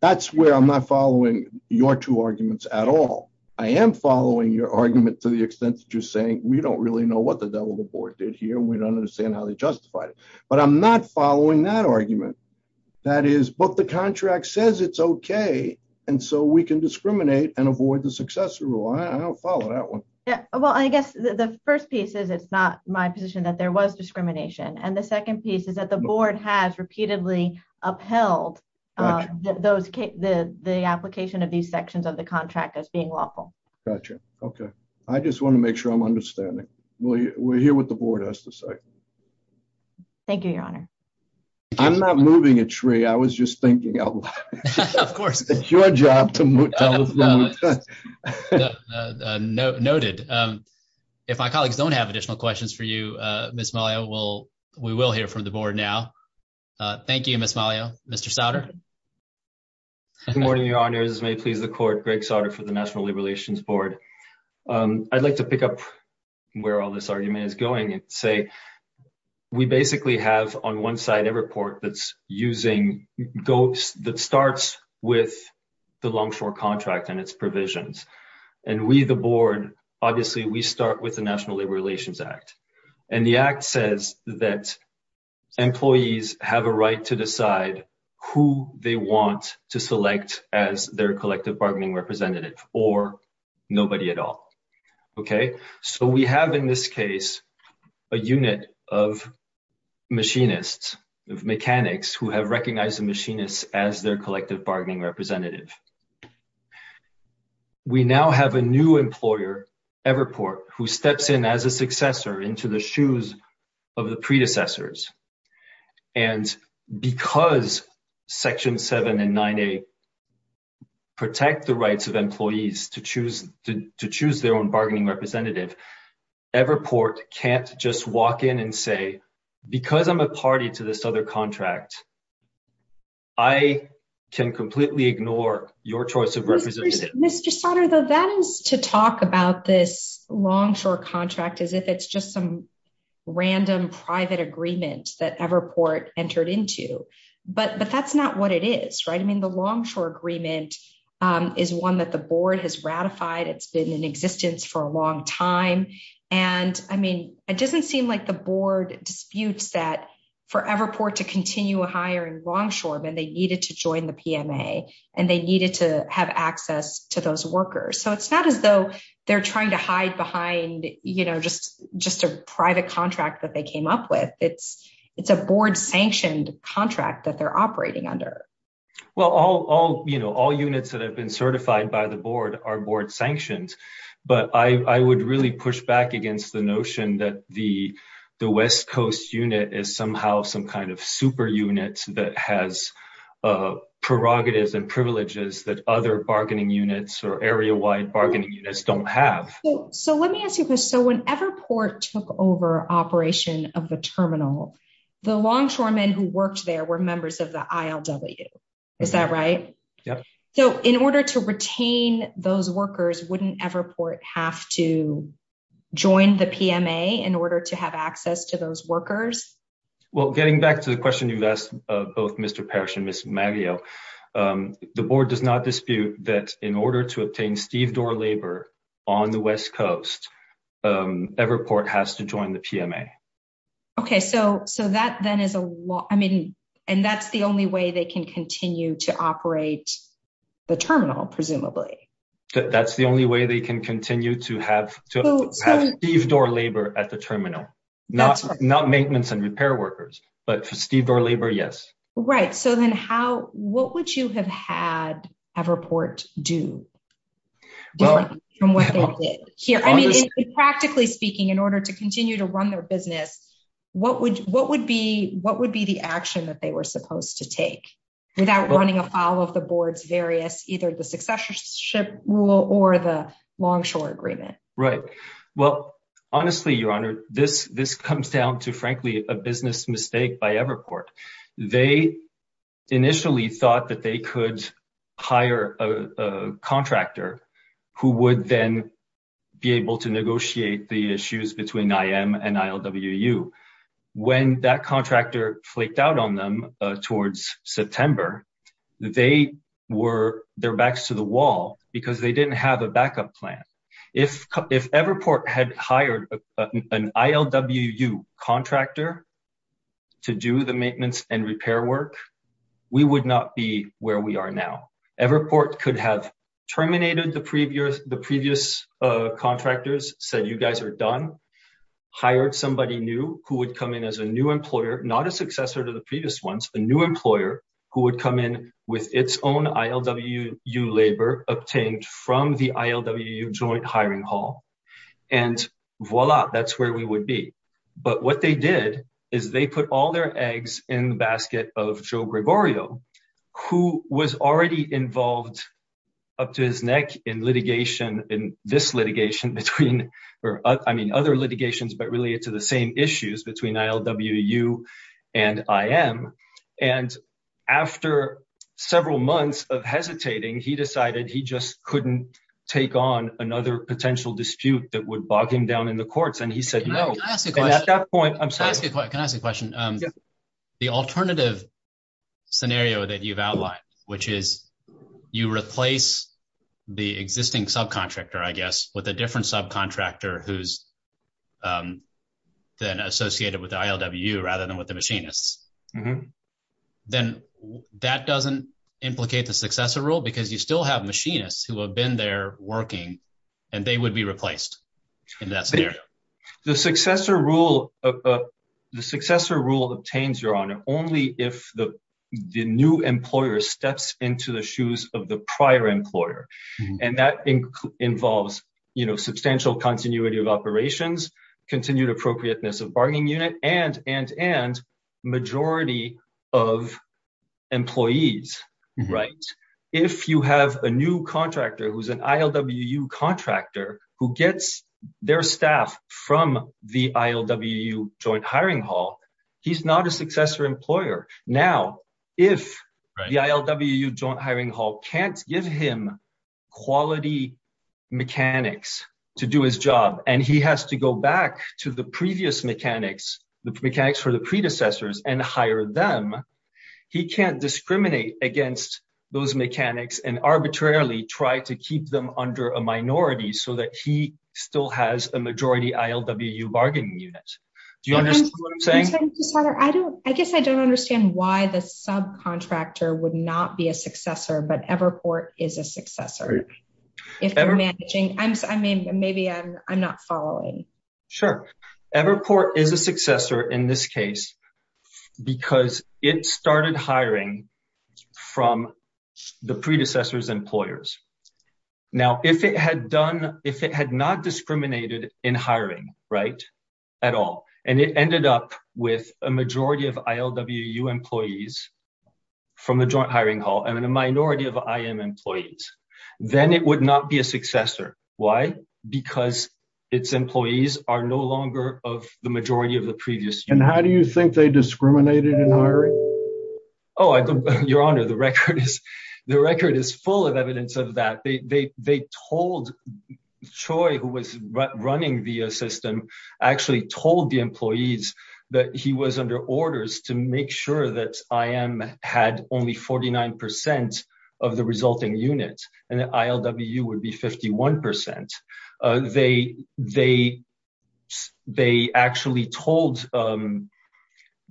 That's where I'm not following your two arguments at all. I am following your argument to the extent that you're saying we don't really know what the devil the board did here and we don't understand how they justified it. But I'm not following that argument. That is, but the contract says it's okay. And so we can discriminate and avoid the successor rule. I don't follow that one. Well, I guess the 1st piece is, it's not my position that there was discrimination. And the 2nd piece is that the board has repeatedly upheld the application of these sections of the contract as being lawful. Gotcha. Okay. I just want to make sure I'm understanding. We'll hear what the board has to say. Thank you, your honor. I'm not moving a tree. I was just thinking, of course, it's your job. Noted. If I don't have additional questions for you, we will hear from the board now. Thank you. Mr. Good morning. Your honor is may please the court for the national relations board. I'd like to pick up where all this argument is going and say, we basically have on 1 side, a report that's using goats that starts with the longshore contract and its provisions. And we, the board, obviously, we start with the national relations act. And the act says that employees have a right to decide who they want to select as their collective bargaining representative or nobody at all. Okay. So, we have, in this case, a unit of machinists mechanics who have recognized the machinists as their collective bargaining representative. We now have a new employer ever report who steps in as a successor into the shoes of the predecessors. And because section 7 and 9, a. Protect the rights of employees to choose to choose their own bargaining representative ever port can't just walk in and say, because I'm a party to this other contract. I can completely ignore your choice of representative to talk about this longshore contract as if it's just some random private agreements that ever report entered into. But that's not what it is. Right? I mean, the longshore agreement is 1 that the board has ratified. It's been in existence for a long time. And, I mean, it doesn't seem like the board disputes that forever port to continue a higher and longshore than they needed to join the and they needed to have access to those workers. So, it's not as though they're trying to hide behind just a private contract that they came up with. It's a board sanctioned contract that they're operating under. Well, all all, you know, all units that have been certified by the board are board sanctions, but I would really push back against the notion that the, the West Coast unit is somehow some kind of super units that has prerogatives and privileges that other bargaining units or area wide bargaining units don't have. So, let me ask you this. So, whenever port took over operation of the terminal, the longshoremen who worked there were members of the. Is that right? Yep. So, in order to retain those workers, wouldn't ever report have to join the in order to have access to those workers. Well, getting back to the question you've asked both Mr. and the board does not dispute that in order to obtain Steve door labor on the West Coast report has to join the. Okay, so so that then is a lot. I mean, and that's the only way they can continue to operate. The terminal, presumably, that's the only way they can continue to have to leave door labor at the terminal, not not maintenance and repair workers, but Steve or labor. Yes. Right. So then how, what would you have had a report do? Practically speaking, in order to continue to run their business, what would, what would be, what would be the action that they were supposed to take without running a file of the boards various either the successorship rule or the longshore agreement? Right? Well, honestly, your honor, this, this comes down to, frankly, a business mistake by ever report. They initially thought that they could hire a contractor who would then be able to negotiate the issues between and when that contractor flaked out on them towards September. They were their backs to the wall because they didn't have a backup plan. If, if ever report had hired an ILWU contractor to do the maintenance and repair work, we would not be where we are now. Ever report could have terminated the previous, the previous contractors said, you guys are done hired. Somebody new who would come in as a new employer, not a successor to the previous ones, the new employer who would come in with its own ILWU labor obtained from the ILWU joint hiring hall. And voila, that's where we would be. But what they did is they put all their eggs in the basket of Joe Gregorio, who was already involved up to his neck in litigation in this litigation between, or I mean other litigations, but related to the same issues between ILWU and IM. And after several months of hesitating, he decided he just couldn't take on another potential dispute that would bog him down in the courts. And he said, no, at that point, I'm sorry. The alternative scenario that you've outlined, which is you replace the existing subcontractor, I guess, with a different subcontractor who's then associated with ILWU rather than what the machine is, then that doesn't implicate the successor rule because you still have machinists who have been there working and they would be replaced. The successor rule obtains your honor only if the new employer steps into the shoes of the prior employer. And that involves substantial continuity of operations, continued appropriateness of bargaining unit, and majority of employees. If you have a new contractor who's an ILWU contractor who gets their staff from the ILWU Joint Hiring Hall, he's not a successor employer. Now, if the ILWU Joint Hiring Hall can't give him quality mechanics to do his job, and he has to go back to the previous mechanics, the mechanics for the predecessors, and hire them, he can't discriminate against those mechanics and arbitrarily try to keep them under a minority so that he still has a majority ILWU bargaining unit. Do you understand what I'm saying? I guess I don't understand why the subcontractor would not be a successor, but Everport is a successor. If they're managing, I mean, maybe I'm not following. Sure. Everport is a successor in this case because it started hiring from the predecessors' employers. Now, if it had not discriminated in hiring, right, at all, and it ended up with a majority of ILWU employees from the Joint Hiring Hall and a minority of IM employees, then it would not be a successor. Why? Because its employees are no longer of the majority of the previous. And how do you think they discriminated in hiring? Oh, Your Honor, the record is full of evidence of that. They told Choi, who was running the system, actually told the employees that he was under orders to make sure that IM had only 49 percent of the resulting unit, and ILWU would be 51 percent. They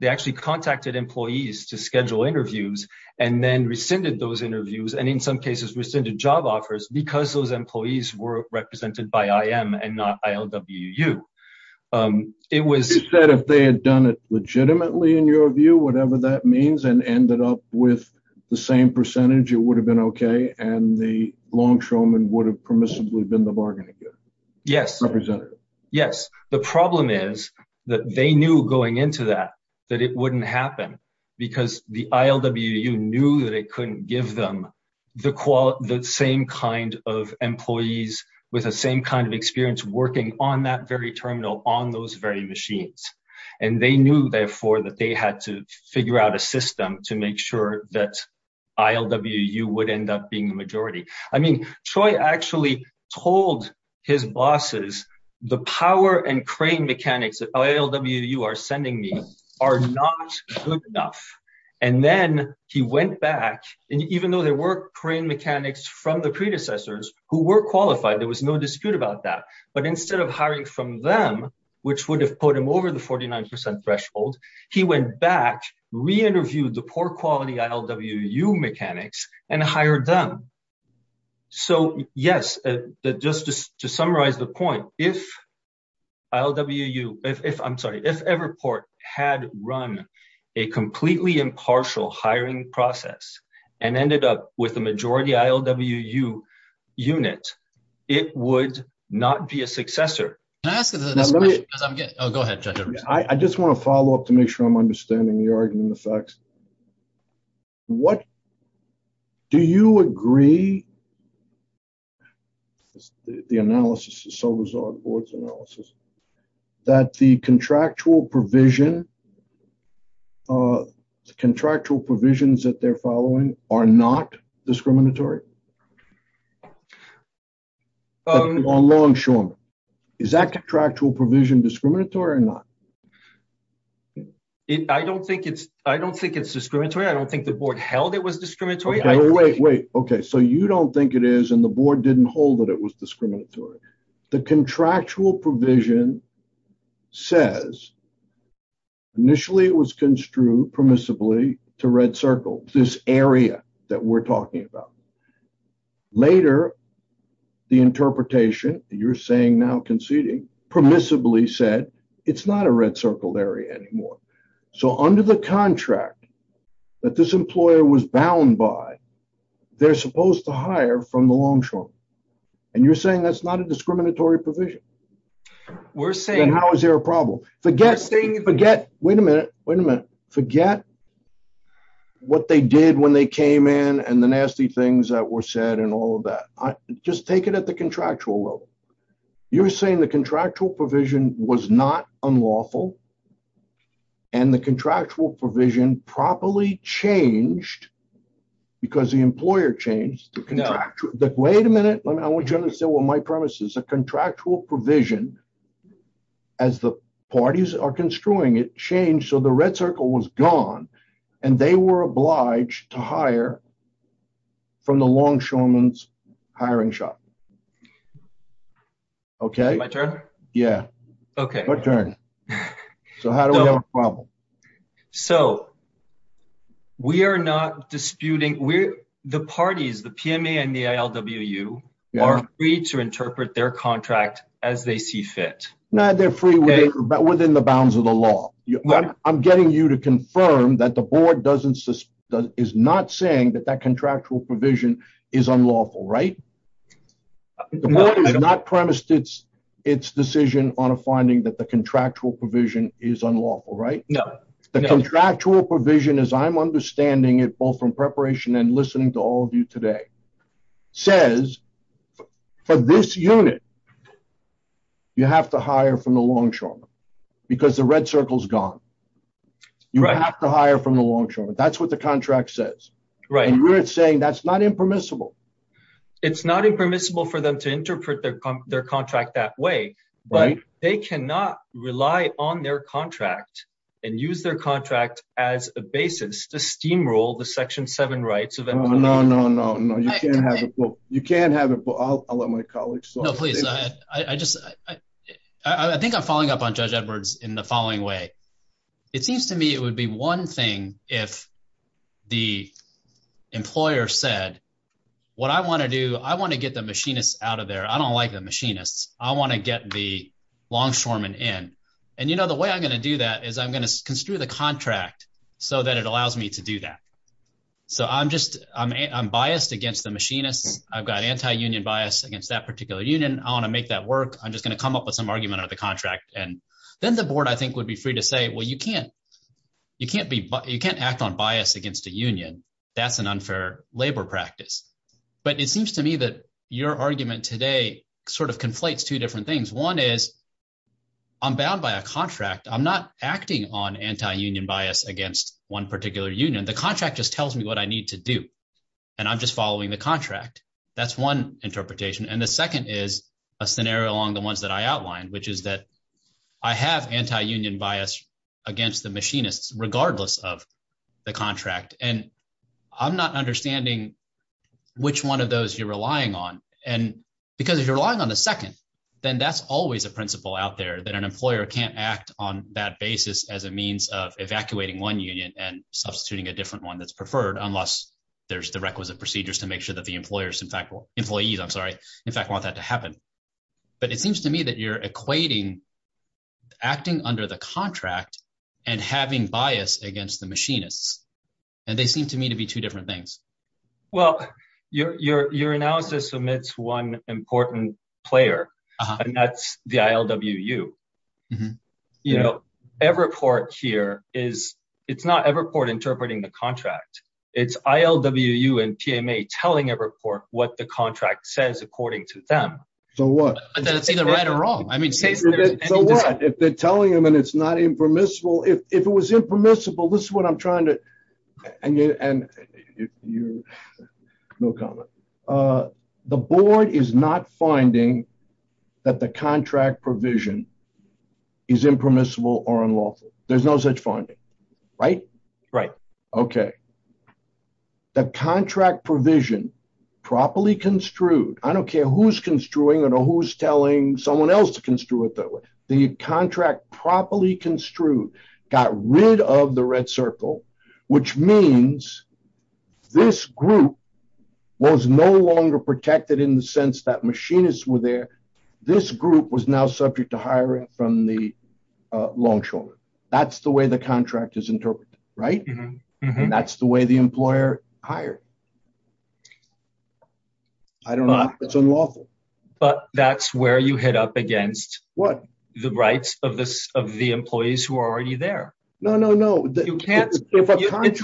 actually contacted employees to schedule interviews and then rescinded those interviews and in some cases rescinded job offers because those employees were represented by IM and not ILWU. You said if they had done it legitimately, in your view, whatever that means, and ended up with the same percentage, it would have been okay and the longshoreman would have permissibly been the bargaining chip representative? Yes, the problem is that they knew going into that that it wouldn't happen because the ILWU knew that it couldn't give them the same kind of employees with the same kind of experience working on that very terminal on those very machines. And they knew, therefore, that they had to figure out a system to make sure that ILWU would end up being the majority. I mean, Choi actually told his bosses, the power and crane mechanics that ILWU are sending me are not good enough. And then he went back, and even though there were crane mechanics from the predecessors who were qualified, there was no dispute about that. But instead of hiring from them, which would have put him over the 49 percent threshold, he went back, re-interviewed the poor quality ILWU mechanics and hired them. So, yes, just to summarize the point, if ILWU, I'm sorry, if Everport had run a completely impartial hiring process and ended up with the majority ILWU unit, it would not be a successor. Go ahead, Choi. I just want to follow up to make sure I'm understanding the argument in the facts. Do you agree, the analysis is so resolved, the board's analysis, that the contractual provisions that they're following are not discriminatory? Is that contractual provision discriminatory or not? I don't think it's discriminatory. I don't think the board held it was discriminatory. Wait, wait, wait. Okay, so you don't think it is and the board didn't hold that it was discriminatory. The contractual provision says initially it was construed permissibly to Red Circle, this area that we're talking about. Later, the interpretation, you're saying now conceding, permissibly said it's not a Red Circle area anymore. So under the contract that this employer was bound by, they're supposed to hire from the Longshore. And you're saying that's not a discriminatory provision? We're saying... Wait a minute, wait a minute. Forget what they did when they came in and the nasty things that were said and all of that. Just take it at the contractual level. You're saying the contractual provision was not unlawful and the contractual provision properly changed because the employer changed. Wait a minute. I want you to understand what my premise is. The contractual provision, as the parties are construing it, changed so the Red Circle was gone. And they were obliged to hire from the Longshoreman's hiring shop. Okay? My turn? Yeah, your turn. So how do we have a problem? So we are not disputing... The parties, the PMA and the ILWU, are free to interpret their contract as they see fit. No, they're free within the bounds of the law. I'm getting you to confirm that the board is not saying that that contractual provision is unlawful, right? The board has not promised its decision on a finding that the contractual provision is unlawful, right? The contractual provision, as I'm understanding it both from preparation and listening to all of you today, says for this unit, you have to hire from the Longshoreman's. Because the Red Circle is gone. You have to hire from the Longshoreman's. That's what the contract says. And you're saying that's not impermissible. It's not impermissible for them to interpret their contract that way. But they cannot rely on their contract and use their contract as a basis to steamroll the Section 7 rights. No, no, no. You can't have it. No, please. I think I'm following up on Judge Edwards in the following way. It seems to me it would be one thing if the employer said, what I want to do, I want to get the machinists out of there. I don't like the machinists. I want the Longshoreman in. And the way I'm going to do that is I'm going to construe the contract so that it allows me to do that. So I'm biased against the machinists. I've got anti-union bias against that particular union. I want to make that work. I'm just going to come up with some argument out of the contract. And then the board, I think, would be free to say, well, you can't act on bias against a union. That's an unfair labor practice. But it seems to me that your argument today sort of conflates two different things. One is I'm bound by a contract. I'm not acting on anti-union bias against one particular union. The contract just tells me what I need to do, and I'm just following the contract. That's one interpretation. And the second is a scenario along the ones that I outlined, which is that I have anti-union bias against the machinists regardless of the contract. And I'm not understanding which one of those you're relying on. And because if you're relying on the second, then that's always a principle out there that an employer can't act on that basis as a means of evacuating one union and substituting a different one that's preferred unless there's the requisite procedures to make sure that the employees, in fact, want that to happen. But it seems to me that you're equating acting under the contract and having bias against the machinists. And they seem to me to be two different things. Well, your analysis omits one important player, and that's the ILWU. You know, Everport here is, it's not Everport interpreting the contract. It's ILWU and TMA telling Everport what the contract says according to them. So what? So what? If they're telling them and it's not impermissible, if it was impermissible, this is what I'm trying to. And you, no comment. The board is not finding that the contract provision is impermissible or unlawful. There's no such finding, right? Right. Okay. The contract provision properly construed, I don't care who's construing it or who's telling someone else to construe it that way. The contract properly construed got rid of the red circle, which means this group was no longer protected in the sense that machinists were there. This group was now subject to hiring from the loan shoulder. That's the way the contract is interpreted, right? And that's the way the employer hired. I don't know if that's unlawful. But that's where you hit up against. The rights of the employees who are already there. No, no, no. It's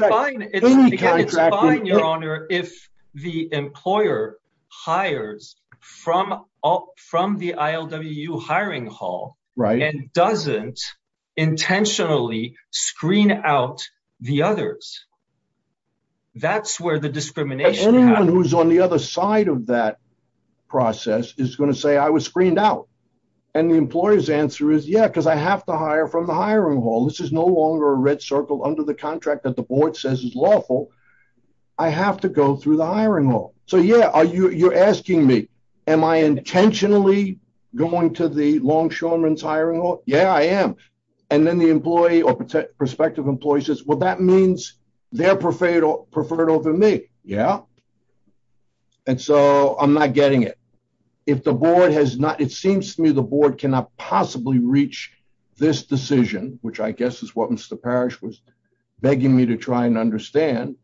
fine, your honor, if the employer hires from the ILWU hiring hall and doesn't intentionally screen out the others. That's where the discrimination happens. Anyone who's on the other side of that process is going to say I was screened out. And the employer's answer is, yeah, because I have to hire from the hiring hall. This is no longer a red circle under the contract that the board says is lawful. I have to go through the hiring hall. So, yeah, you're asking me, am I intentionally going to the longshoreman's hiring hall? Yeah, I am. And then the employee or prospective employee says, well, that means they're preferred over me. Yeah. And so I'm not getting it. If the board has not, it seems to me the board cannot possibly reach this decision, which I guess is what Mr. Parrish was begging me to try and understand.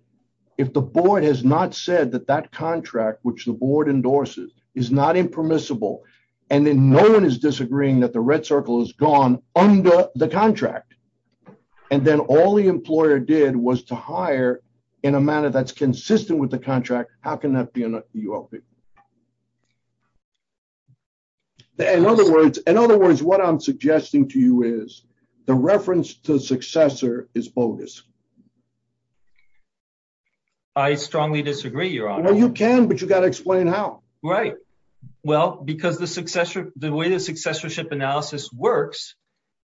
If the board has not said that that contract, which the board endorses, is not impermissible. And then no one is disagreeing that the red circle is gone under the contract. And then all the employer did was to hire in a manner that's consistent with the contract. How can that be unlawful? In other words, what I'm suggesting to you is the reference to the successor is bogus. I strongly disagree, Your Honor. You can, but you've got to explain how. Well, because the way the successorship analysis works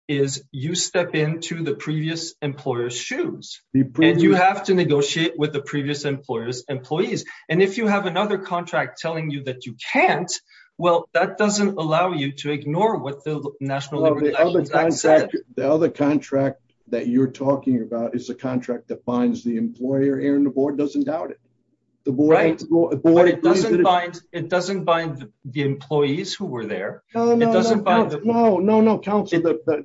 is you step into the previous employer's shoes. And you have to negotiate with the previous employer's employees. And if you have another contract telling you that you can't, well, that doesn't allow you to ignore what the national. The other contract that you're talking about is a contract that binds the employer and the board doesn't doubt it. But it doesn't bind the employees who were there. No, no, no.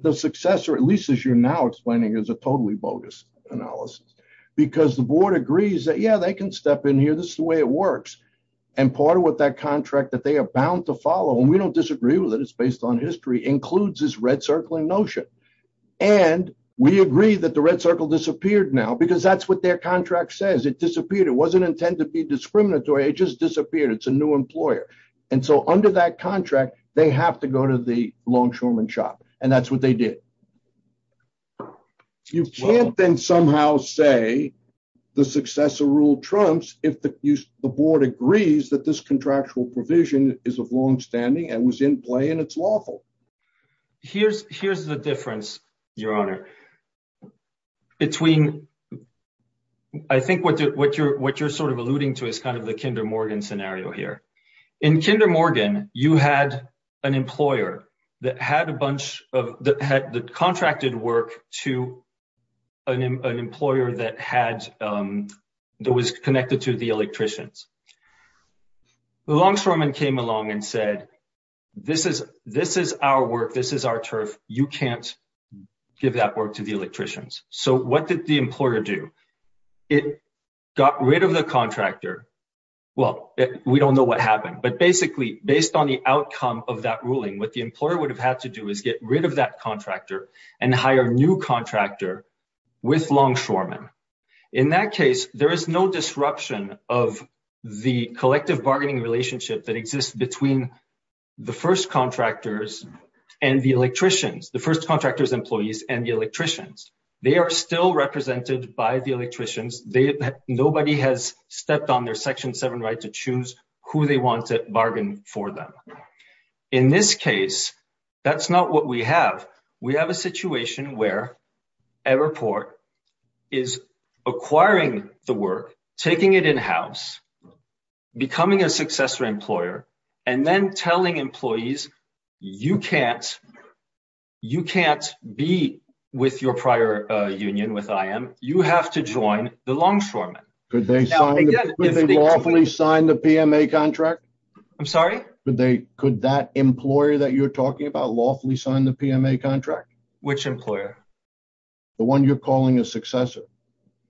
The successor, at least as you're now explaining, is a totally bogus analysis. Because the board agrees that, yeah, they can step in here. This is the way it works. And part of what that contract that they are bound to follow, and we don't disagree with it. It's based on history, includes this red circling notion. And we agree that the red circle disappeared now because that's what their contract says. It disappeared. It wasn't intended to be discriminatory. It just disappeared. It's a new employer. And so under that contract, they have to go to the longshoreman shop. And that's what they did. You can't then somehow say the successor ruled trumps if the board agrees that this contractual provision is of longstanding and was in play and it's lawful. Here's the difference, Your Honor. Between, I think what you're sort of alluding to is kind of the Kinder Morgan scenario here. In Kinder Morgan, you had an employer that contracted work to an employer that was connected to the electricians. The longshoreman came along and said, this is our work, this is our turf. You can't give that work to the electricians. So what did the employer do? It got rid of the contractor. Well, we don't know what happened. But basically, based on the outcome of that ruling, what the employer would have had to do is get rid of that contractor and hire a new contractor with longshoreman. In that case, there is no disruption of the collective bargaining relationship that exists between the first contractors and the electricians, the first contractors' employees and the electricians. They are still represented by the electricians. Nobody has stepped on their Section 7 right to choose who they want to bargain for them. In this case, that's not what we have. We have a situation where Everport is acquiring the work, taking it in-house, becoming a successful employer, and then telling employees, you can't be with your prior union with IM. You have to join the longshoreman. Could they lawfully sign the PMA contract? I'm sorry? Could that employer that you're talking about lawfully sign the PMA contract? Which employer? The one you're calling a successor.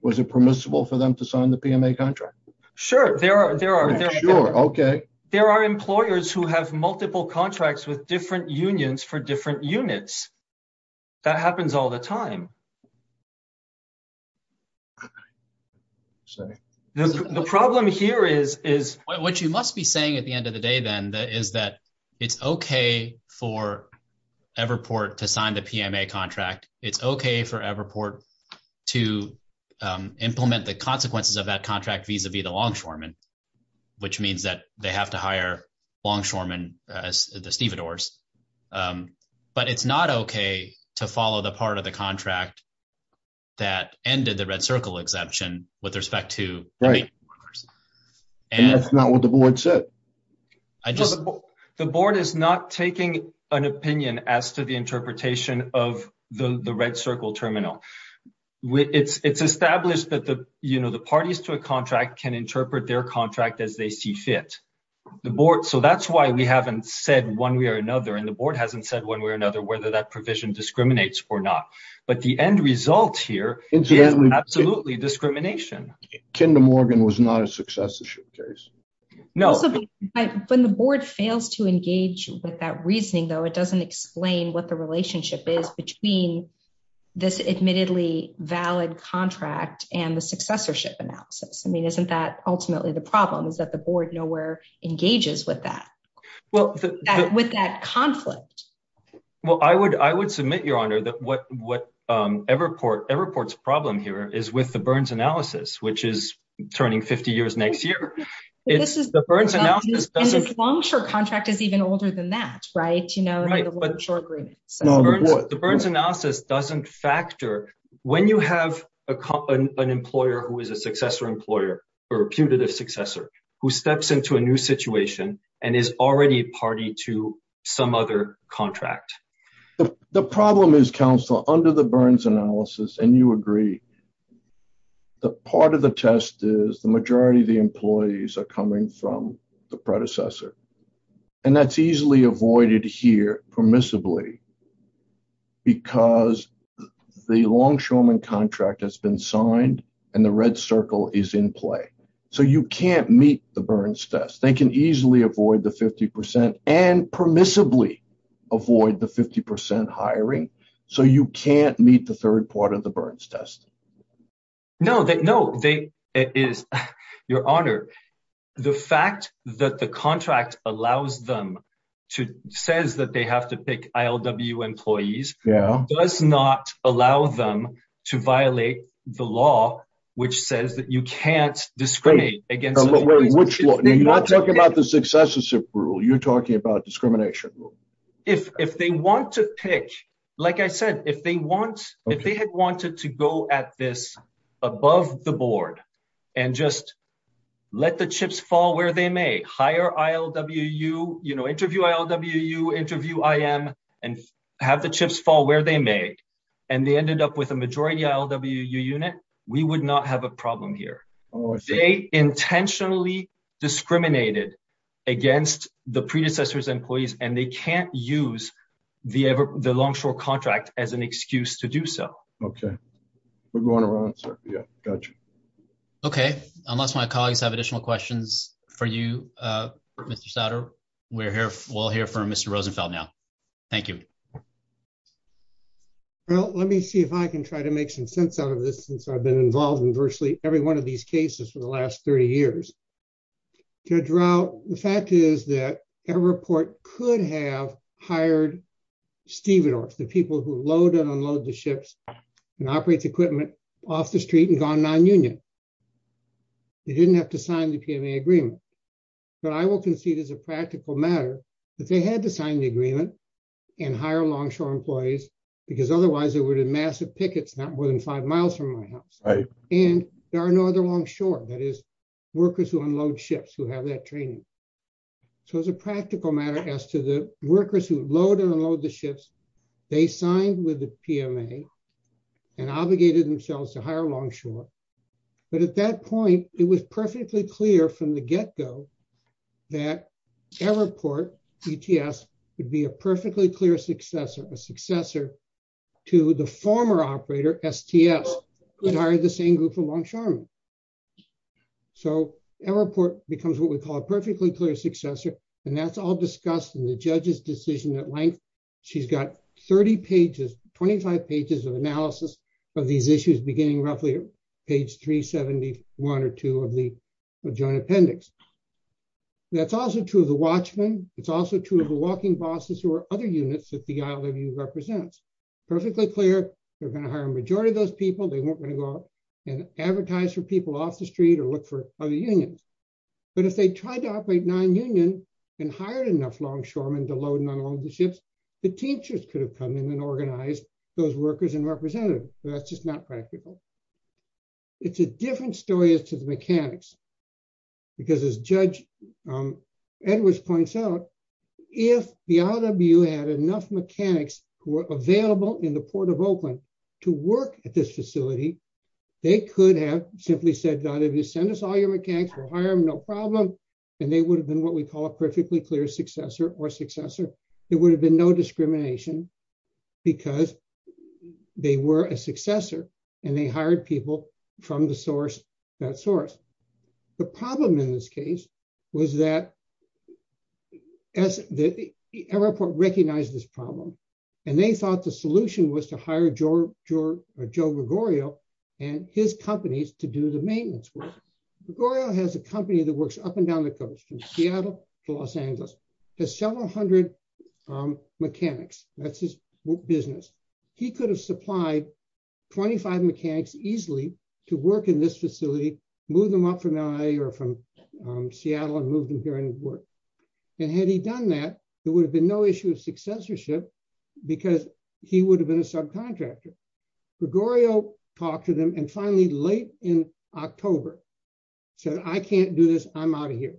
Was it permissible for them to sign the PMA contract? Sure. There are employers who have multiple contracts with different unions for different units. That happens all the time. Sorry. The problem here is what you must be saying at the end of the day, then, is that it's okay for Everport to sign the PMA contract. It's okay for Everport to implement the consequences of that contract vis-a-vis the longshoreman, which means that they have to hire longshoremen as the stevedores. But it's not okay to follow the part of the contract that ended the red circle exemption with respect to the employers. That's not what the board said. The board is not taking an opinion as to the interpretation of the red circle terminal. It's established that the parties to a contract can interpret their contract as they see fit. So that's why we haven't said one way or another, and the board hasn't said one way or another whether that provision discriminates or not. But the end result here is absolutely discrimination. Ken DeMorgan was not a successorship case. When the board fails to engage with that reasoning, though, it doesn't explain what the relationship is between this admittedly valid contract and the successorship analysis. I mean, isn't that ultimately the problem, is that the board nowhere engages with that conflict? Well, I would submit, Your Honor, that what Everport's problem here is with the Burns analysis, which is turning 50 years next year. And the longshore contract is even older than that, right? The Burns analysis doesn't factor when you have an employer who is a successor employer, a reputed successor, who steps into a new situation and is already a party to some other contract. The problem is, Counselor, under the Burns analysis, and you agree, part of the test is the majority of the employees are coming from the predecessor. And that's easily avoided here permissibly because the longshoreman contract has been signed and the red circle is in play. So you can't meet the Burns test. They can easily avoid the 50% and permissibly avoid the 50% hiring. So you can't meet the third part of the Burns test. No, Your Honor, the fact that the contract allows them to, says that they have to pick ILW employees, does not allow them to violate the law, which says that you can't discriminate. Which law? You're not talking about the successorship rule. You're talking about discrimination. If they want to pick, like I said, if they had wanted to go at this above the board and just let the chips fall where they may, hire ILWU, interview ILWU, interview IM, and have the chips fall where they may, and they ended up with a majority ILWU unit, we would not have a problem here. They intentionally discriminated against the predecessor's employees, and they can't use the longshoreman contract as an excuse to do so. Okay. We're going around. Gotcha. Okay. Unless my colleagues have additional questions for you, Mr. Sauter, we'll hear from Mr. Rosenfeld now. Thank you. Well, let me see if I can try to make some sense out of this since I've been involved in virtually every one of these cases for the last 30 years. Judge Rao, the fact is that Everport could have hired stevedorfs, the people who load and unload the ships and operate the equipment, off the street and gone non-union. They didn't have to sign the PMA agreement. But I will concede as a practical matter that they had to sign the agreement and hire longshore employees, because otherwise they would have massive pickets not more than five miles from my house. And there are no other longshore, that is, workers who unload ships who have that training. So, as a practical matter, as to the workers who load and unload the ships, they signed with the PMA and obligated themselves to hire longshore. But at that point, it was perfectly clear from the get-go that Everport, ETS, would be a perfectly clear successor to the former operator, STF, who hired the same group of longshoremen. So, Everport becomes what we call a perfectly clear successor, and that's all discussed in the judge's decision at length. She's got 30 pages, 25 pages of analysis of these issues beginning roughly at page 371 or 372 of the joint appendix. That's also true of the watchmen. It's also true of the walking bosses who are other units that the ILWU represents. Perfectly clear, they're going to hire a majority of those people. They won't go out and advertise for people off the street or look for other unions. But if they tried to operate non-union and hired enough longshoremen to load and unload the ships, the teachers could have come in and organized those workers and representatives. That's just not practical. It's a different story as to the mechanics, because as Judge Edwards points out, if the ILWU had enough mechanics who were available in the Port of Oakland to work at this facility, they could have simply said, send us all your mechanics, we'll hire them, no problem. And they would have been what we call a perfectly clear successor or successor. There would have been no discrimination because they were a successor and they hired people from that source. The problem in this case was that the airport recognized this problem and they thought the solution was to hire Joe Gregorio and his companies to do the maintenance work. Gregorio has a company that works up and down the coast, from Seattle to Los Angeles, has several hundred mechanics. That's his business. He could have supplied 25 mechanics easily to work in this facility, move them up from LA or from Seattle and move them here and work. And had he done that, there would have been no issue of successorship because he would have been a subcontractor. Gregorio talked to them and finally, late in October, said, I can't do this, I'm out of here.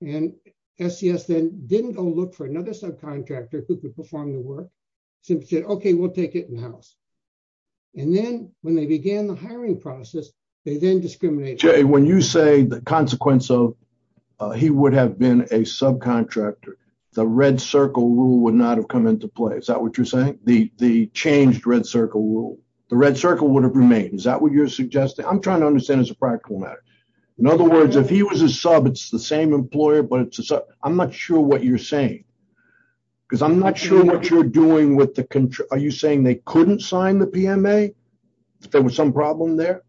And SCS then didn't go look for another subcontractor who could perform the work, simply said, okay, we'll take it in-house. And then when they began the hiring process, they didn't discriminate. Jay, when you say the consequence of he would have been a subcontractor, the red circle rule would not have come into play. Is that what you're saying? The changed red circle rule, the red circle would have remained. Is that what you're suggesting? I'm trying to understand as a practical matter. In other words, if he was a sub, it's the same employer, but I'm not sure what you're saying. Because I'm not sure what you're doing with the contract. Are you saying they couldn't sign the PMA? There was some problem there?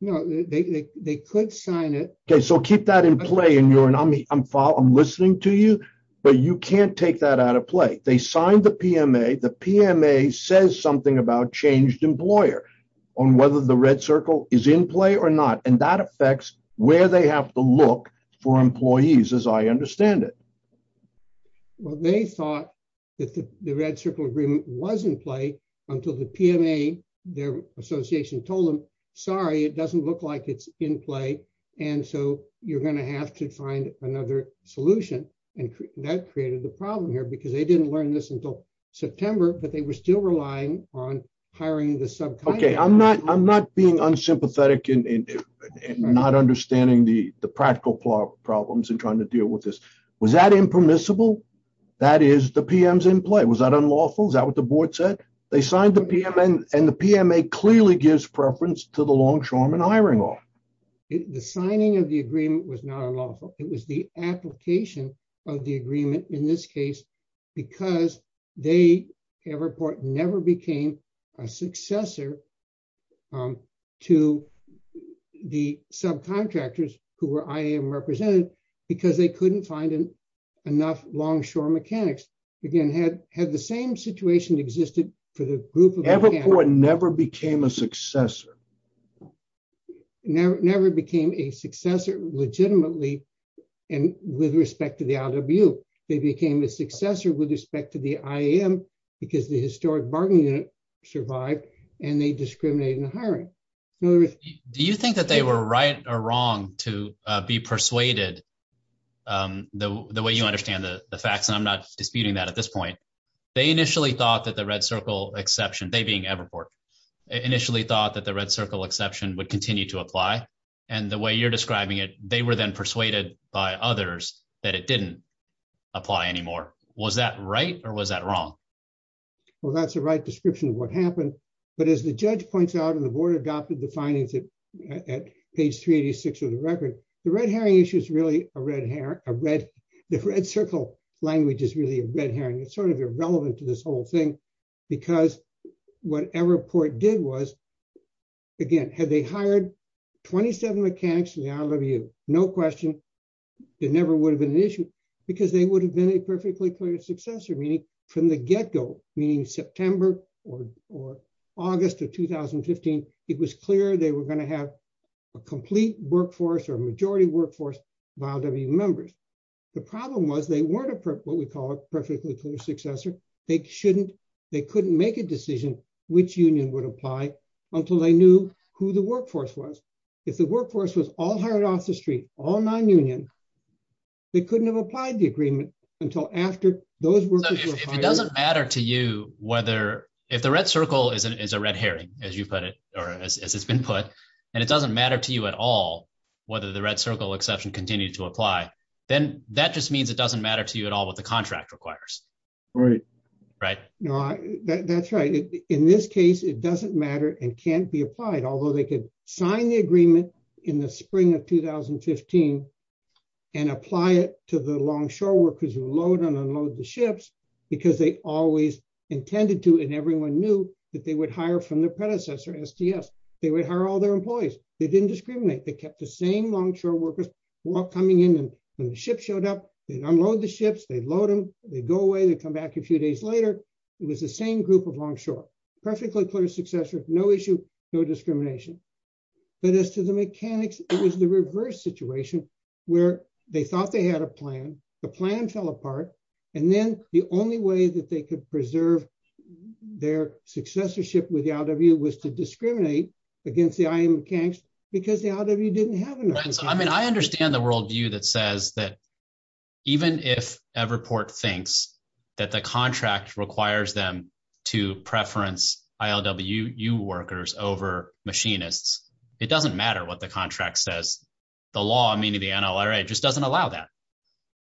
No, they could sign it. Okay, so keep that in play. I'm listening to you, but you can't take that out of play. They signed the PMA. The PMA says something about changed employer on whether the red circle is in play or not. And that affects where they have to look for employees, as I understand it. They thought that the red circle agreement was in play until the PMA, their association, told them, sorry, it doesn't look like it's in play. And so you're going to have to find another solution. And that created the problem here because they didn't learn this until September, but they were still relying on hiring the subcontractor. Okay, I'm not being unsympathetic and not understanding the practical problems and trying to deal with this. Was that impermissible? That is, the PM's in play. Was that unlawful? Is that what the board said? They signed the PMA, and the PMA clearly gives preference to the longshoreman hiring law. The signing of the agreement was not unlawful. It was the application of the agreement, in this case, because Everport never became a successor to the subcontractors who were IAM represented because they couldn't find enough longshore mechanics. Again, had the same situation existed for the group of mechanics? Everport never became a successor. Everport never became a successor legitimately and with respect to the IW. They became a successor with respect to the IAM because the historic bargaining unit survived and they discriminated in hiring. Do you think that they were right or wrong to be persuaded the way you understand the facts? And I'm not disputing that at this point. They initially thought that the red circle exception, they being Everport, initially thought that the red circle exception would continue to apply. And the way you're describing it, they were then persuaded by others that it didn't apply anymore. Was that right? Or was that wrong? Well, that's the right description of what happened. But as the judge points out, and the board adopted the findings at page 386 of the record, the red herring issue is really a red herring. The red circle language is really a red herring. It's sort of irrelevant to this whole thing. Because what Everport did was, again, had they hired 27 mechanics in the IW, no question, it never would have been an issue because they would have been a perfectly clear successor, meaning from the get-go, meaning September or August of 2015, it was clear they were going to have a complete workforce or majority workforce of IW members. The problem was they weren't what we call a perfectly clear successor. They couldn't make a decision which union would apply until they knew who the workforce was. If the workforce was all hired off the street, all non-union, they couldn't have applied the agreement until after those workers were hired. If it doesn't matter to you whether – if the red circle is a red herring, as you put it, or as it's been put, and it doesn't matter to you at all whether the red circle exception continues to apply, then that just means it doesn't matter to you at all what the contract requires. Right. Right? That's right. In this case, it doesn't matter and can't be applied, although they could sign the agreement in the spring of 2015 and apply it to the longshore workers who load and unload the ships because they always intended to and everyone knew that they would hire from their predecessor, SDS. They would hire all their employees. They didn't discriminate. They kept the same longshore workers who were coming in and when the ship showed up, they unload the ships, they load them, they go away, they come back a few days later. It was the same group of longshore. Perfectly clear successor, no issue, no discrimination. But as to the mechanics, it was the reverse situation where they thought they had a plan, the plan fell apart, and then the only way that they could preserve their successorship with the ILWU was to discriminate against the IM mechanics because the ILWU didn't have enough. I mean, I understand the worldview that says that even if Everport thinks that the contract requires them to preference ILWU workers over machinists, it doesn't matter what the contract says. The law, meaning the NLRA, just doesn't allow that.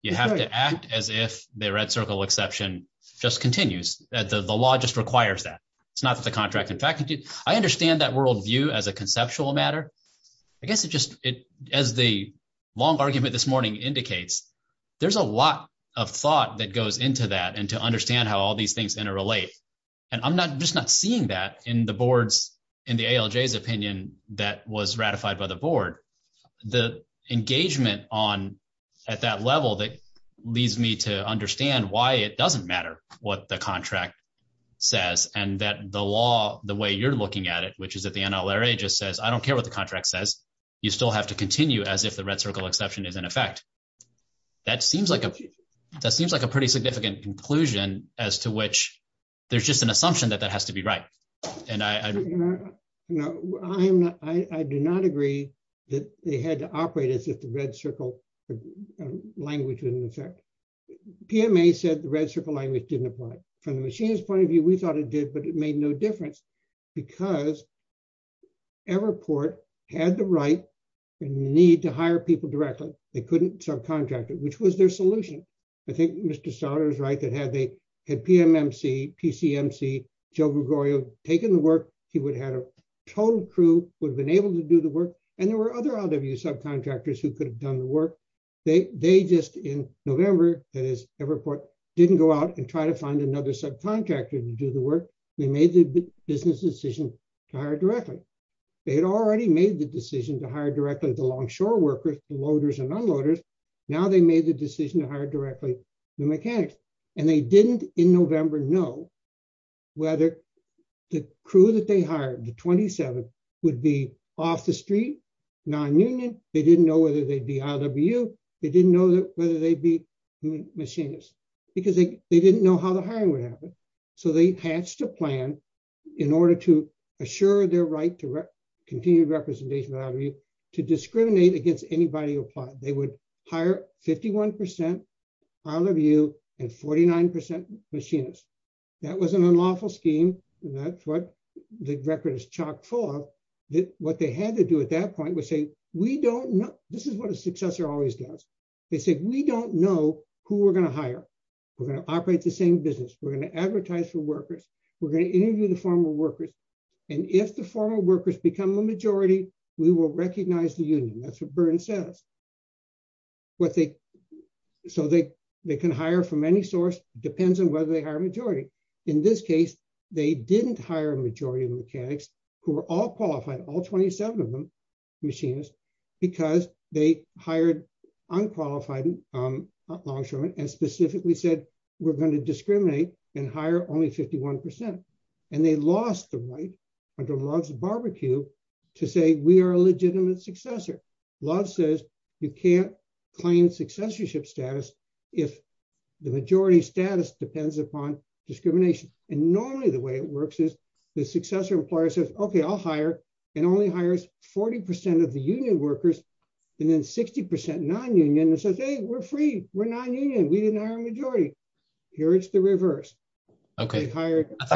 You have to act as if the Red Circle exception just continues. The law just requires that. It's not that the contract in fact, I understand that worldview as a conceptual matter. I guess it just, as the long argument this morning indicates, there's a lot of thought that goes into that and to understand how all these things interrelate. And I'm just not seeing that in the board's, in the ALJ's opinion that was ratified by the board. The engagement on, at that level that leads me to understand why it doesn't matter what the contract says and that the law, the way you're looking at it, which is that the NLRA just says, I don't care what the contract says, you still have to continue as if the Red Circle exception is in effect. That seems like a pretty significant conclusion as to which there's just an assumption that that has to be right. I do not agree that they had to operate as if the Red Circle language was in effect. PMA said the Red Circle language didn't apply. From the machinists' point of view, we thought it did, but it made no difference because Everport had the right and the need to hire people directly. They couldn't subcontract it, which was their solution. I think Mr. Schauder is right that had PMMC, PCMC, Joe Gregorio taken the work, he would have had a total crew, would have been able to do the work, and there were other other subcontractors who could have done the work. They just, in November, as Everport didn't go out and try to find another subcontractor to do the work, they made the business decision to hire directly. They had already made the decision to hire directly the longshore workers, the loaders and unloaders. Now they made the decision to hire directly the mechanics. They didn't, in November, know whether the crew that they hired, the 27, would be off the street, non-union. They didn't know whether they'd be IWU. They didn't know whether they'd be machinists because they didn't know how the hiring would happen. So they patched a plan in order to assure their right to continue representation of IWU to discriminate against anybody who applied. They would hire 51% IWU and 49% machinists. That was an unlawful scheme. That's what the record is chock full of. What they had to do at that point was say, we don't know. This is what a successor always does. They say, we don't know who we're going to hire. We're going to operate the same business. We're going to advertise for workers. We're going to interview the former workers. And if the former workers become a majority, we will recognize the union. That's what Byrne said. So they can hire from any source. It depends on whether they hire a majority. In this case, they didn't hire a majority of the mechanics who were all qualified, all 27 of them, machinists, because they hired unqualified longshoremen and specifically said, we're going to discriminate and hire only 51%. And they lost the point under Love's barbecue to say, we are a legitimate successor. Love says, you can't claim successorship status if the majority status depends upon discrimination. And normally the way it works is the successor employer says, okay, I'll hire and only hires 40% of the union workers and then 60% non-union and says, hey, we're free. We're non-union. We didn't hire a majority. Here it's the reverse. Okay.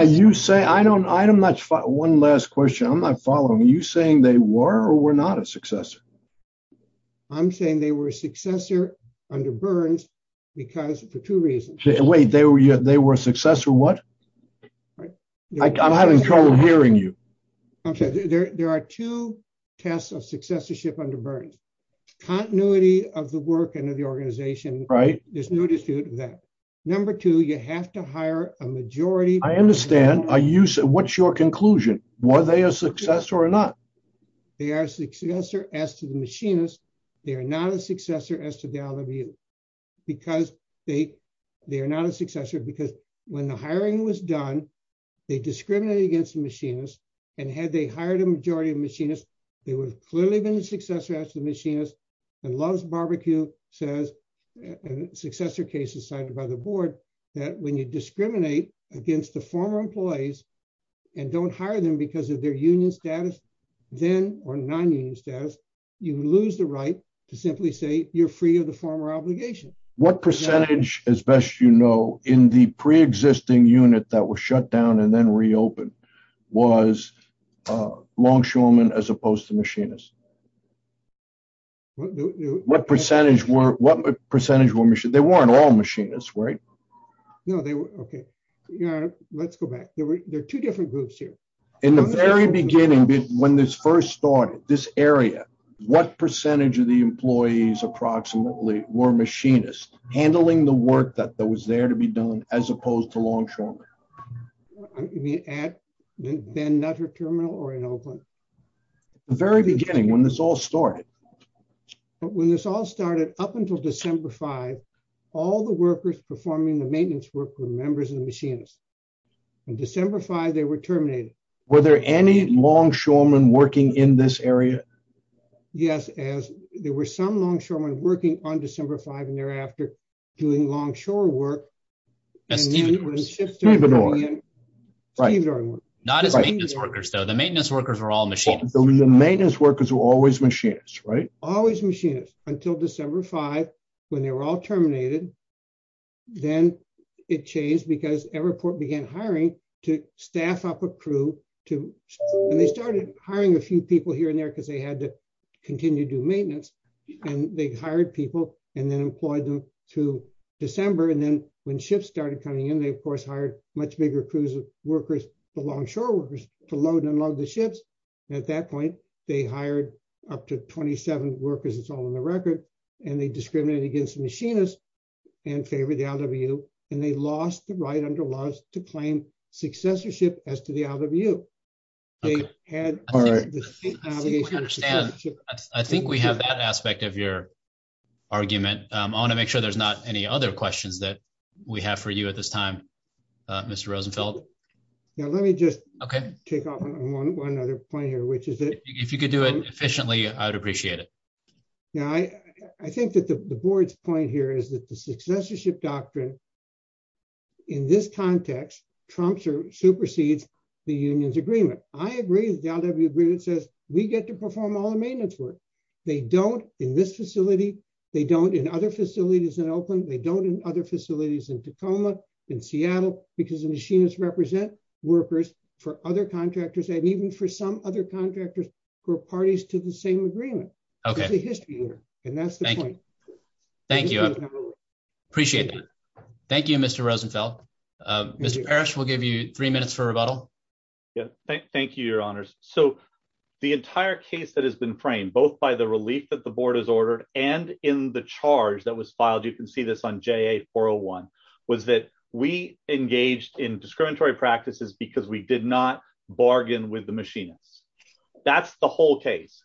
You say, I don't, I'm not sure. One last question. I'm not following. Are you saying they were or were not a successor? I'm saying they were a successor under Byrne's because for two reasons. Wait, they were a successor what? I'm having trouble hearing you. There are two tests of successorship under Byrne's. Continuity of the work and of the organization. Right. Number two, you have to hire a majority. I understand. What's your conclusion? Were they a successor or not? They are a successor as to the machinists. They are not a successor as to the LWU. Because they are not a successor because when the hiring was done, they discriminated against the machinists and had they hired a majority of machinists, they would clearly have been a successor as to the machinists. What percentage, as best you know, in the pre-existing unit that was shut down and then reopened, was longshoremen as opposed to machinists? What percentage were machinists? They weren't all machinists, right? Let's go back. There are two different groups here. In the very beginning, when this first started, this area, what percentage of the employees approximately were machinists, handling the work that was there to be done as opposed to longshoremen? Was there another terminal or another one? The very beginning, when this all started. When this all started, up until December 5, all the workers performing the maintenance work were members of the machinists. In December 5, they were terminated. Were there any longshoremen working in this area? Yes, there were some longshoremen working on December 5 and thereafter doing longshore work. Not as maintenance workers, though. The maintenance workers were all machinists. The maintenance workers were always machinists, right? Always machinists, until December 5, when they were all terminated. Then it changed because Everport began hiring to staff up a crew. They started hiring a few people here and there because they had to continue to do maintenance. They hired people and then employed them to December. When ships started coming in, they, of course, hired much bigger crews of workers, the longshore workers, to load and unload the ships. At that point, they hired up to 27 workers, it's all on the record. They discriminated against the machinists and favored the LWU. They lost the right under laws to claim successorship as to the LWU. I think we have that aspect of your argument. I want to make sure there's not any other questions that we have for you at this time, Mr. Rosenfeld. Let me just take off on one other point here. If you could do it efficiently, I would appreciate it. I think that the board's point here is that the successorship doctrine, in this context, trumps or supersedes the union's agreement. I agree with the LWU agreement that says we get to perform all the maintenance work. They don't in this facility, they don't in other facilities in Oakland, they don't in other facilities in Tacoma, in Seattle, because the machinists represent workers for other contractors, and even for some other contractors for parties to the same agreement. That's the point. Thank you. I appreciate that. Thank you, Mr. Rosenfeld. Mr. Parrish, we'll give you three minutes for rebuttal. Thank you, your honors. The entire case that has been framed, both by the relief that the board has ordered and in the charge that was filed, you can see this on JA 401, was that we engaged in discriminatory practices because we did not bargain with the machinists. That's the whole case.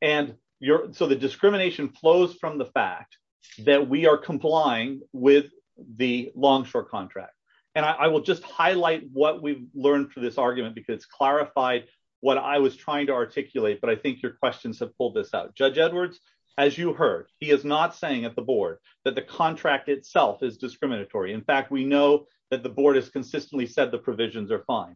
The discrimination flows from the fact that we are complying with the Longshore contract. I will just highlight what we've learned from this argument, because it clarified what I was trying to articulate, but I think your questions have pulled this out. Judge Edwards, as you heard, he is not saying at the board that the contract itself is discriminatory. In fact, we know that the board has consistently said the provisions are fine.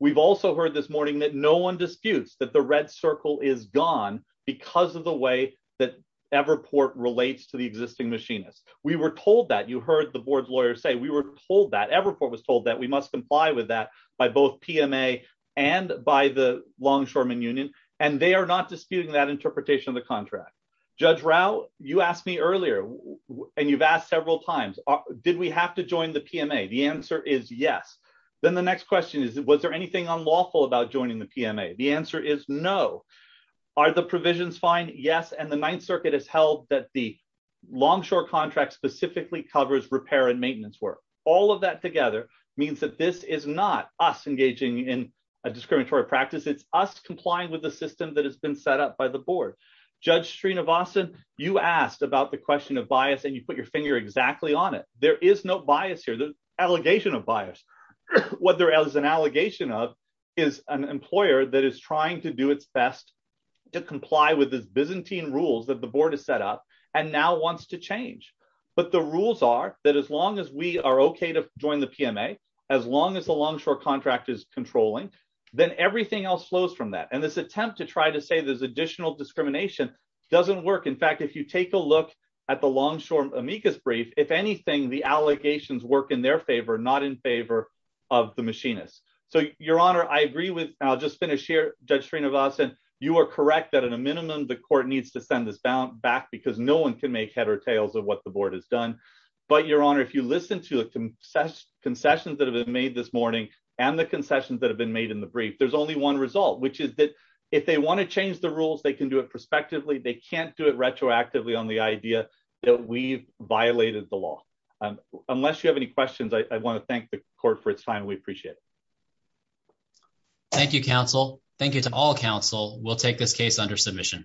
We've also heard this morning that no one disputes that the red circle is gone because of the way that Everport relates to the existing machinists. We were told that. You heard the board's lawyers say we were told that. Everport was told that. We must comply with that by both PMA and by the Longshoremen Union, and they are not disputing that interpretation of the contract. Judge Rao, you asked me earlier, and you've asked several times, did we have to join the PMA? The answer is yes. Then the next question is, was there anything unlawful about joining the PMA? The answer is no. Are the provisions fine? Yes, and the Ninth Circuit has held that the Longshore contract specifically covers repair and maintenance work. All of that together means that this is not us engaging in a discriminatory practice. It's us complying with the system that has been set up by the board. Judge Srinivasan, you asked about the question of bias, and you put your finger exactly on it. There is no bias here. There is an allegation of bias. What there is an allegation of is an employer that is trying to do its best to comply with the Byzantine rules that the board has set up and now wants to change. But the rules are that as long as we are okay to join the PMA, as long as the Longshore contract is controlling, then everything else flows from that. And this attempt to try to say there's additional discrimination doesn't work. In fact, if you take a look at the Longshore amicus brief, if anything, the allegations work in their favor, not in favor of the machinists. So, Your Honor, I agree with, and I'll just finish here, Judge Srinivasan, you are correct that at a minimum the court needs to send this back because no one can make head or tails of what the board has done. But, Your Honor, if you listen to concessions that have been made this morning and the concessions that have been made in the brief, there's only one result, which is that if they want to change the rules, they can do it prospectively. They can't do it retroactively on the idea that we've violated the law. Unless you have any questions, I want to thank the court for its time. We appreciate it. Thank you, counsel. Thank you to all counsel. We'll take this case under submission.